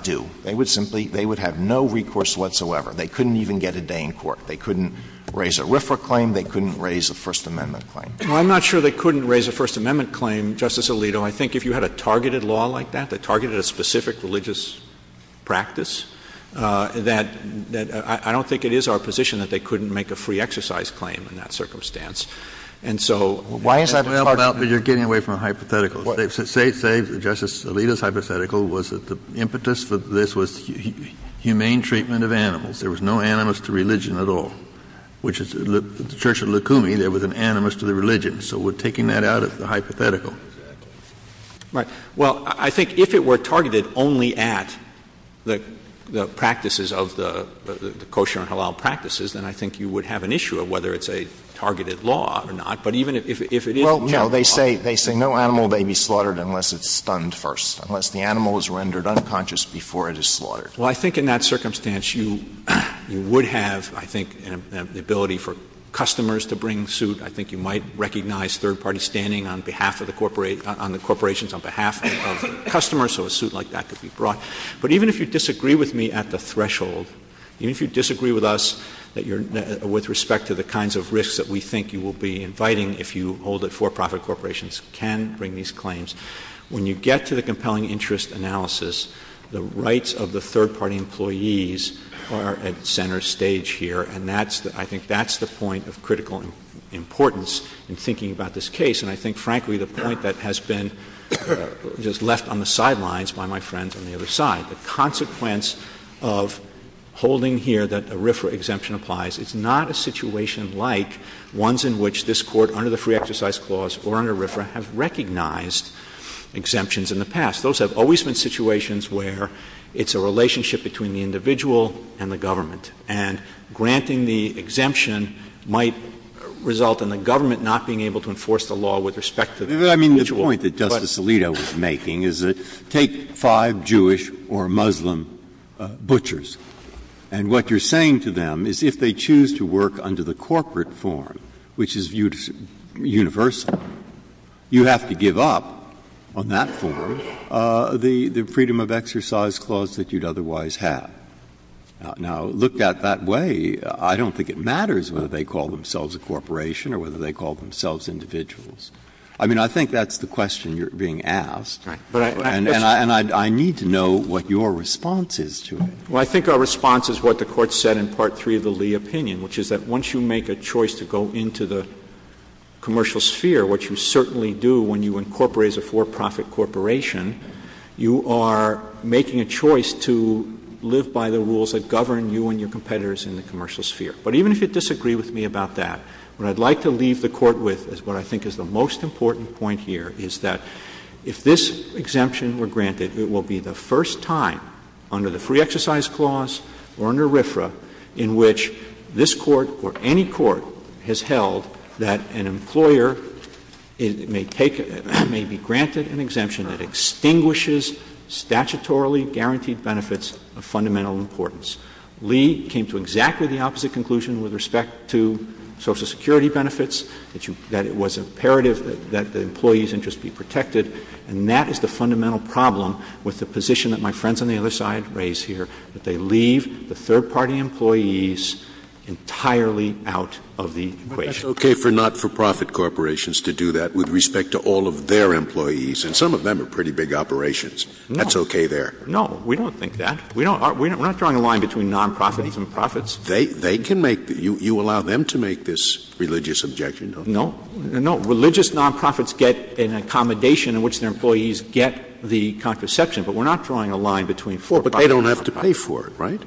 do? They would have no recourse whatsoever. They couldn't even get a day in court. They couldn't raise a RFRA claim. They couldn't raise a First Amendment claim. Well, I'm not sure they couldn't raise a First Amendment claim, Justice Alito. I think if you had a targeted law like that that targeted a specific religious practice, that I don't think it is our position that they couldn't make a free exercise claim in that circumstance. And so why is that— You're getting away from a hypothetical. Say Justice Alito's hypothetical was that the impetus for this was humane treatment of animals. There was no animus to religion at all. Which is the Church of Lukumi, there was an animus to the religion. So we're taking that out of the hypothetical. Right. Well, I think if it were targeted only at the practices of the kosher and halal practices, then I think you would have an issue of whether it's a targeted law or not. But even if it is— Well, no, they say no animal may be slaughtered unless it's stunned first, unless the animal is rendered unconscious before it is slaughtered. Well, I think in that circumstance you would have, I think, an ability for customers to bring suit. I think you might recognize third-party standing on behalf of the corporations, on behalf of customers, so a suit like that could be brought. But even if you disagree with me at the threshold, even if you disagree with us with respect to the kinds of risks that we think you will be inviting if you hold that for-profit corporations can bring these claims, when you get to the compelling interest analysis, the rights of the third-party employees are at center stage here, and I think that's the point of critical importance in thinking about this case. And I think, frankly, the point that has been just left on the sidelines by my friend on the other side, the consequence of holding here that a RFRA exemption applies, it's not a situation like ones in which this Court, under the Free Exercise Clause or under RFRA, have recognized exemptions in the past. Those have always been situations where it's a relationship between the individual and the government, and granting the exemption might result in the government not being able to enforce the law with respect to the individual. I mean, the point that Justice Alito is making is that take five Jewish or Muslim butchers, and what you're saying to them is if they choose to work under the corporate form, which is universal, you have to give up on that form the Freedom of Exercise Clause that you'd otherwise have. Now, looked at that way, I don't think it matters whether they call themselves a corporation or whether they call themselves individuals. I mean, I think that's the question you're being asked, and I need to know what your response is to it. Well, I think our response is what the Court said in Part 3 of the Lee opinion, which is that once you make a choice to go into the commercial sphere, which you certainly do when you incorporate as a for-profit corporation, you are making a choice to live by the rules that govern you and your competitors in the commercial sphere. But even if you disagree with me about that, what I'd like to leave the Court with is what I think is the most important point here, is that if this exemption were granted, it will be the first time under the Free Exercise Clause or under RFRA in which this Court or any Court has held that an employer may be granted an exemption that extinguishes statutorily guaranteed benefits of fundamental importance. Lee came to exactly the opposite conclusion with respect to Social Security benefits, that it was imperative that the employees' interests be protected, and that is the fundamental problem with the position that my friends on the other side raise here, that they leave the third-party employees entirely out of the equation. But that's okay for not-for-profit corporations to do that with respect to all of their employees, and some of them are pretty big operations. That's okay there. No, we don't think that. We're not drawing a line between non-profits and profits. You allow them to make this religious objection? No. Religious non-profits get an accommodation in which their employees get the contraception, but we're not drawing a line between the four. But they don't have to pay for it, right?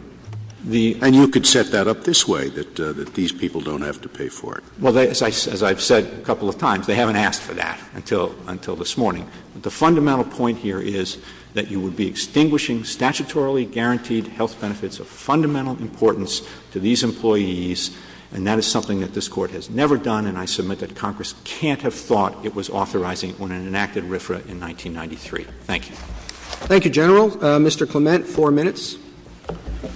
And you could set that up this way, that these people don't have to pay for it. Well, as I've said a couple of times, they haven't asked for that until this morning. The fundamental point here is that you would be extinguishing statutorily guaranteed health benefits of fundamental importance to these employees, and that is something that this Court has never done, and I submit that Congress can't have thought it was authorizing on an enacted RFRA in 1993. Thank you. Thank you, General. Mr. Clement, four minutes.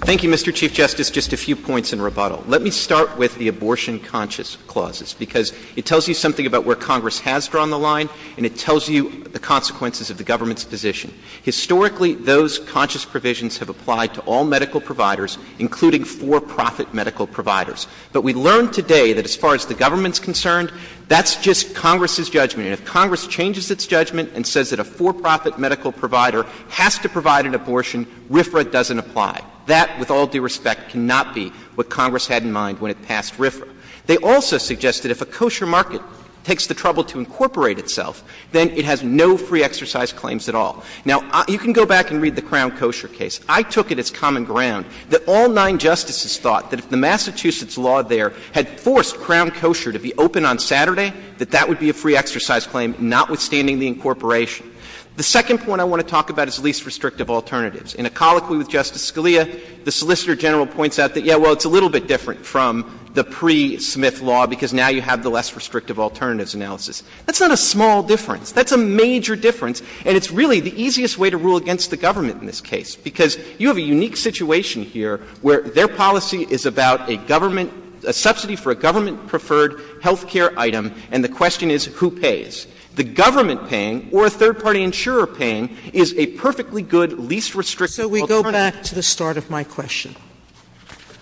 Thank you, Mr. Chief Justice. Just a few points in rebuttal. Let me start with the abortion-conscious clauses, because it tells you something about where Congress has drawn the line, and it tells you the consequences of the government's decision. Historically, those conscious provisions have applied to all medical providers, including for-profit medical providers. But we learned today that as far as the government's concerned, that's just Congress's judgment. And if Congress changes its judgment and says that a for-profit medical provider has to provide an abortion, RFRA doesn't apply. That, with all due respect, cannot be what Congress had in mind when it passed RFRA. They also suggest that if a kosher market takes the trouble to incorporate itself, then it has no free exercise claims at all. Now, you can go back and read the Crown kosher case. I took it as common ground that all nine justices thought that if the Massachusetts law there had forced Crown kosher to be open on Saturday, that that would be a free exercise claim, notwithstanding the incorporation. The second point I want to talk about is least restrictive alternatives. In a colloquy with Justice Scalia, the Solicitor General points out that, yeah, well, it's a little bit different from the pre-Smith law, because now you have the less restrictive alternatives analysis. That's not a small difference. That's a major difference. And it's really the easiest way to rule against the government in this case, because you have a unique situation here where their policy is about a government, a subsidy for a government-preferred health care item, and the question is who pays. The government paying or a third-party insurer paying is a perfectly good least restrictive alternative. So we go back to the start of my question.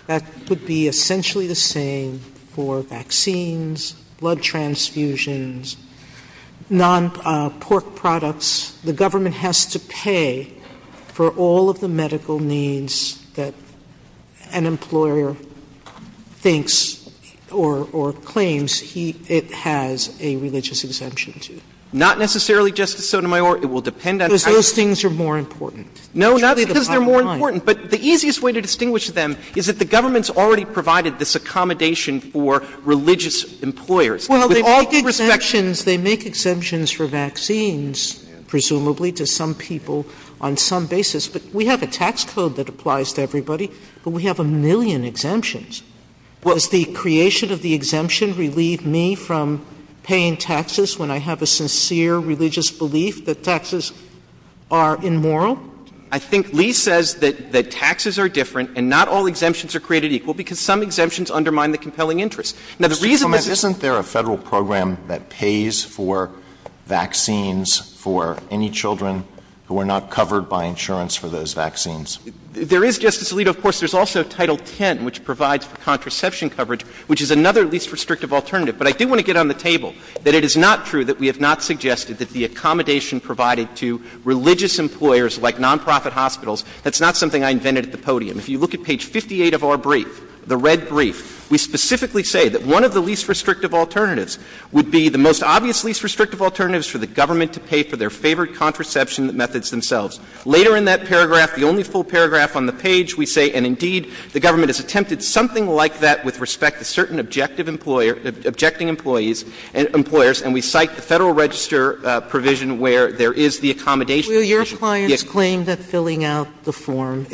That would be essentially the same for vaccines, blood transfusions, non-pork products. The government has to pay for all of the medical needs that an employer thinks or claims it has a religious exemption to. Not necessarily just the Sotomayor. It will depend on how you define it. Because those things are more important. No, not because they're more important. But the easiest way to distinguish them is that the government's already provided this accommodation for religious employers. Well, they make exemptions for vaccines, presumably, to some people on some basis. But we have a tax code that applies to everybody, but we have a million exemptions. Does the creation of the exemption relieve me from paying taxes when I have a sincere religious belief that taxes are immoral? No. I think Lee says that taxes are different and not all exemptions are created equal because some exemptions undermine the compelling interest. Now, the reason this — Isn't there a federal program that pays for vaccines for any children who are not covered by insurance for those vaccines? There is, Justice Alito. Of course, there's also Title X, which provides contraception coverage, which is another least restrictive alternative. But I do want to get on the table that it is not true that we have not suggested that the accommodation provided to religious employers like nonprofit hospitals, that's not something I invented at the podium. If you look at page 58 of our brief, the red brief, we specifically say that one of the least restrictive alternatives would be the most obvious least restrictive alternatives for the government to pay for their favorite contraception methods themselves. Later in that paragraph, the only full paragraph on the page, we say, and indeed the government has attempted something like that with respect to certain objecting employers, and we cite the Federal Register provision where there is the accommodation provision. Will your clients claim that filling out the form,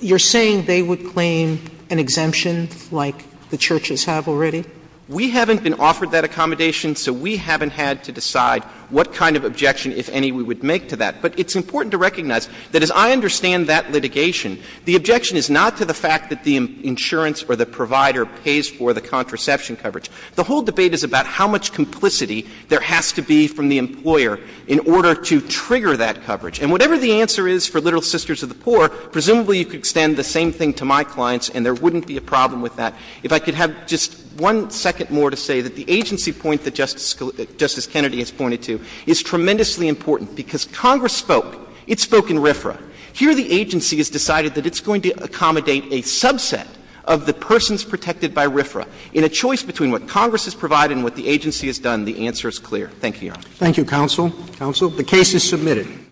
you're saying they would claim an exemption like the churches have already? We haven't been offered that accommodation, so we haven't had to decide what kind of objection, if any, we would make to that. But it's important to recognize that as I understand that litigation, the objection is not to the fact that the insurance or the provider pays for the contraception coverage. The whole debate is about how much complicity there has to be from the employer in order to trigger that coverage. And whatever the answer is for Little Sisters of the Poor, presumably you could extend the same thing to my clients and there wouldn't be a problem with that. If I could have just one second more to say that the agency point that Justice Kennedy has pointed to is tremendously important because Congress spoke. It spoke in RFRA. Here the agency has decided that it's going to accommodate a subset of the persons protected by RFRA. In a choice between what Congress has provided and what the agency has done, the answer is clear. Thank you, Your Honor. Thank you, Counsel. Counsel, the case is submitted.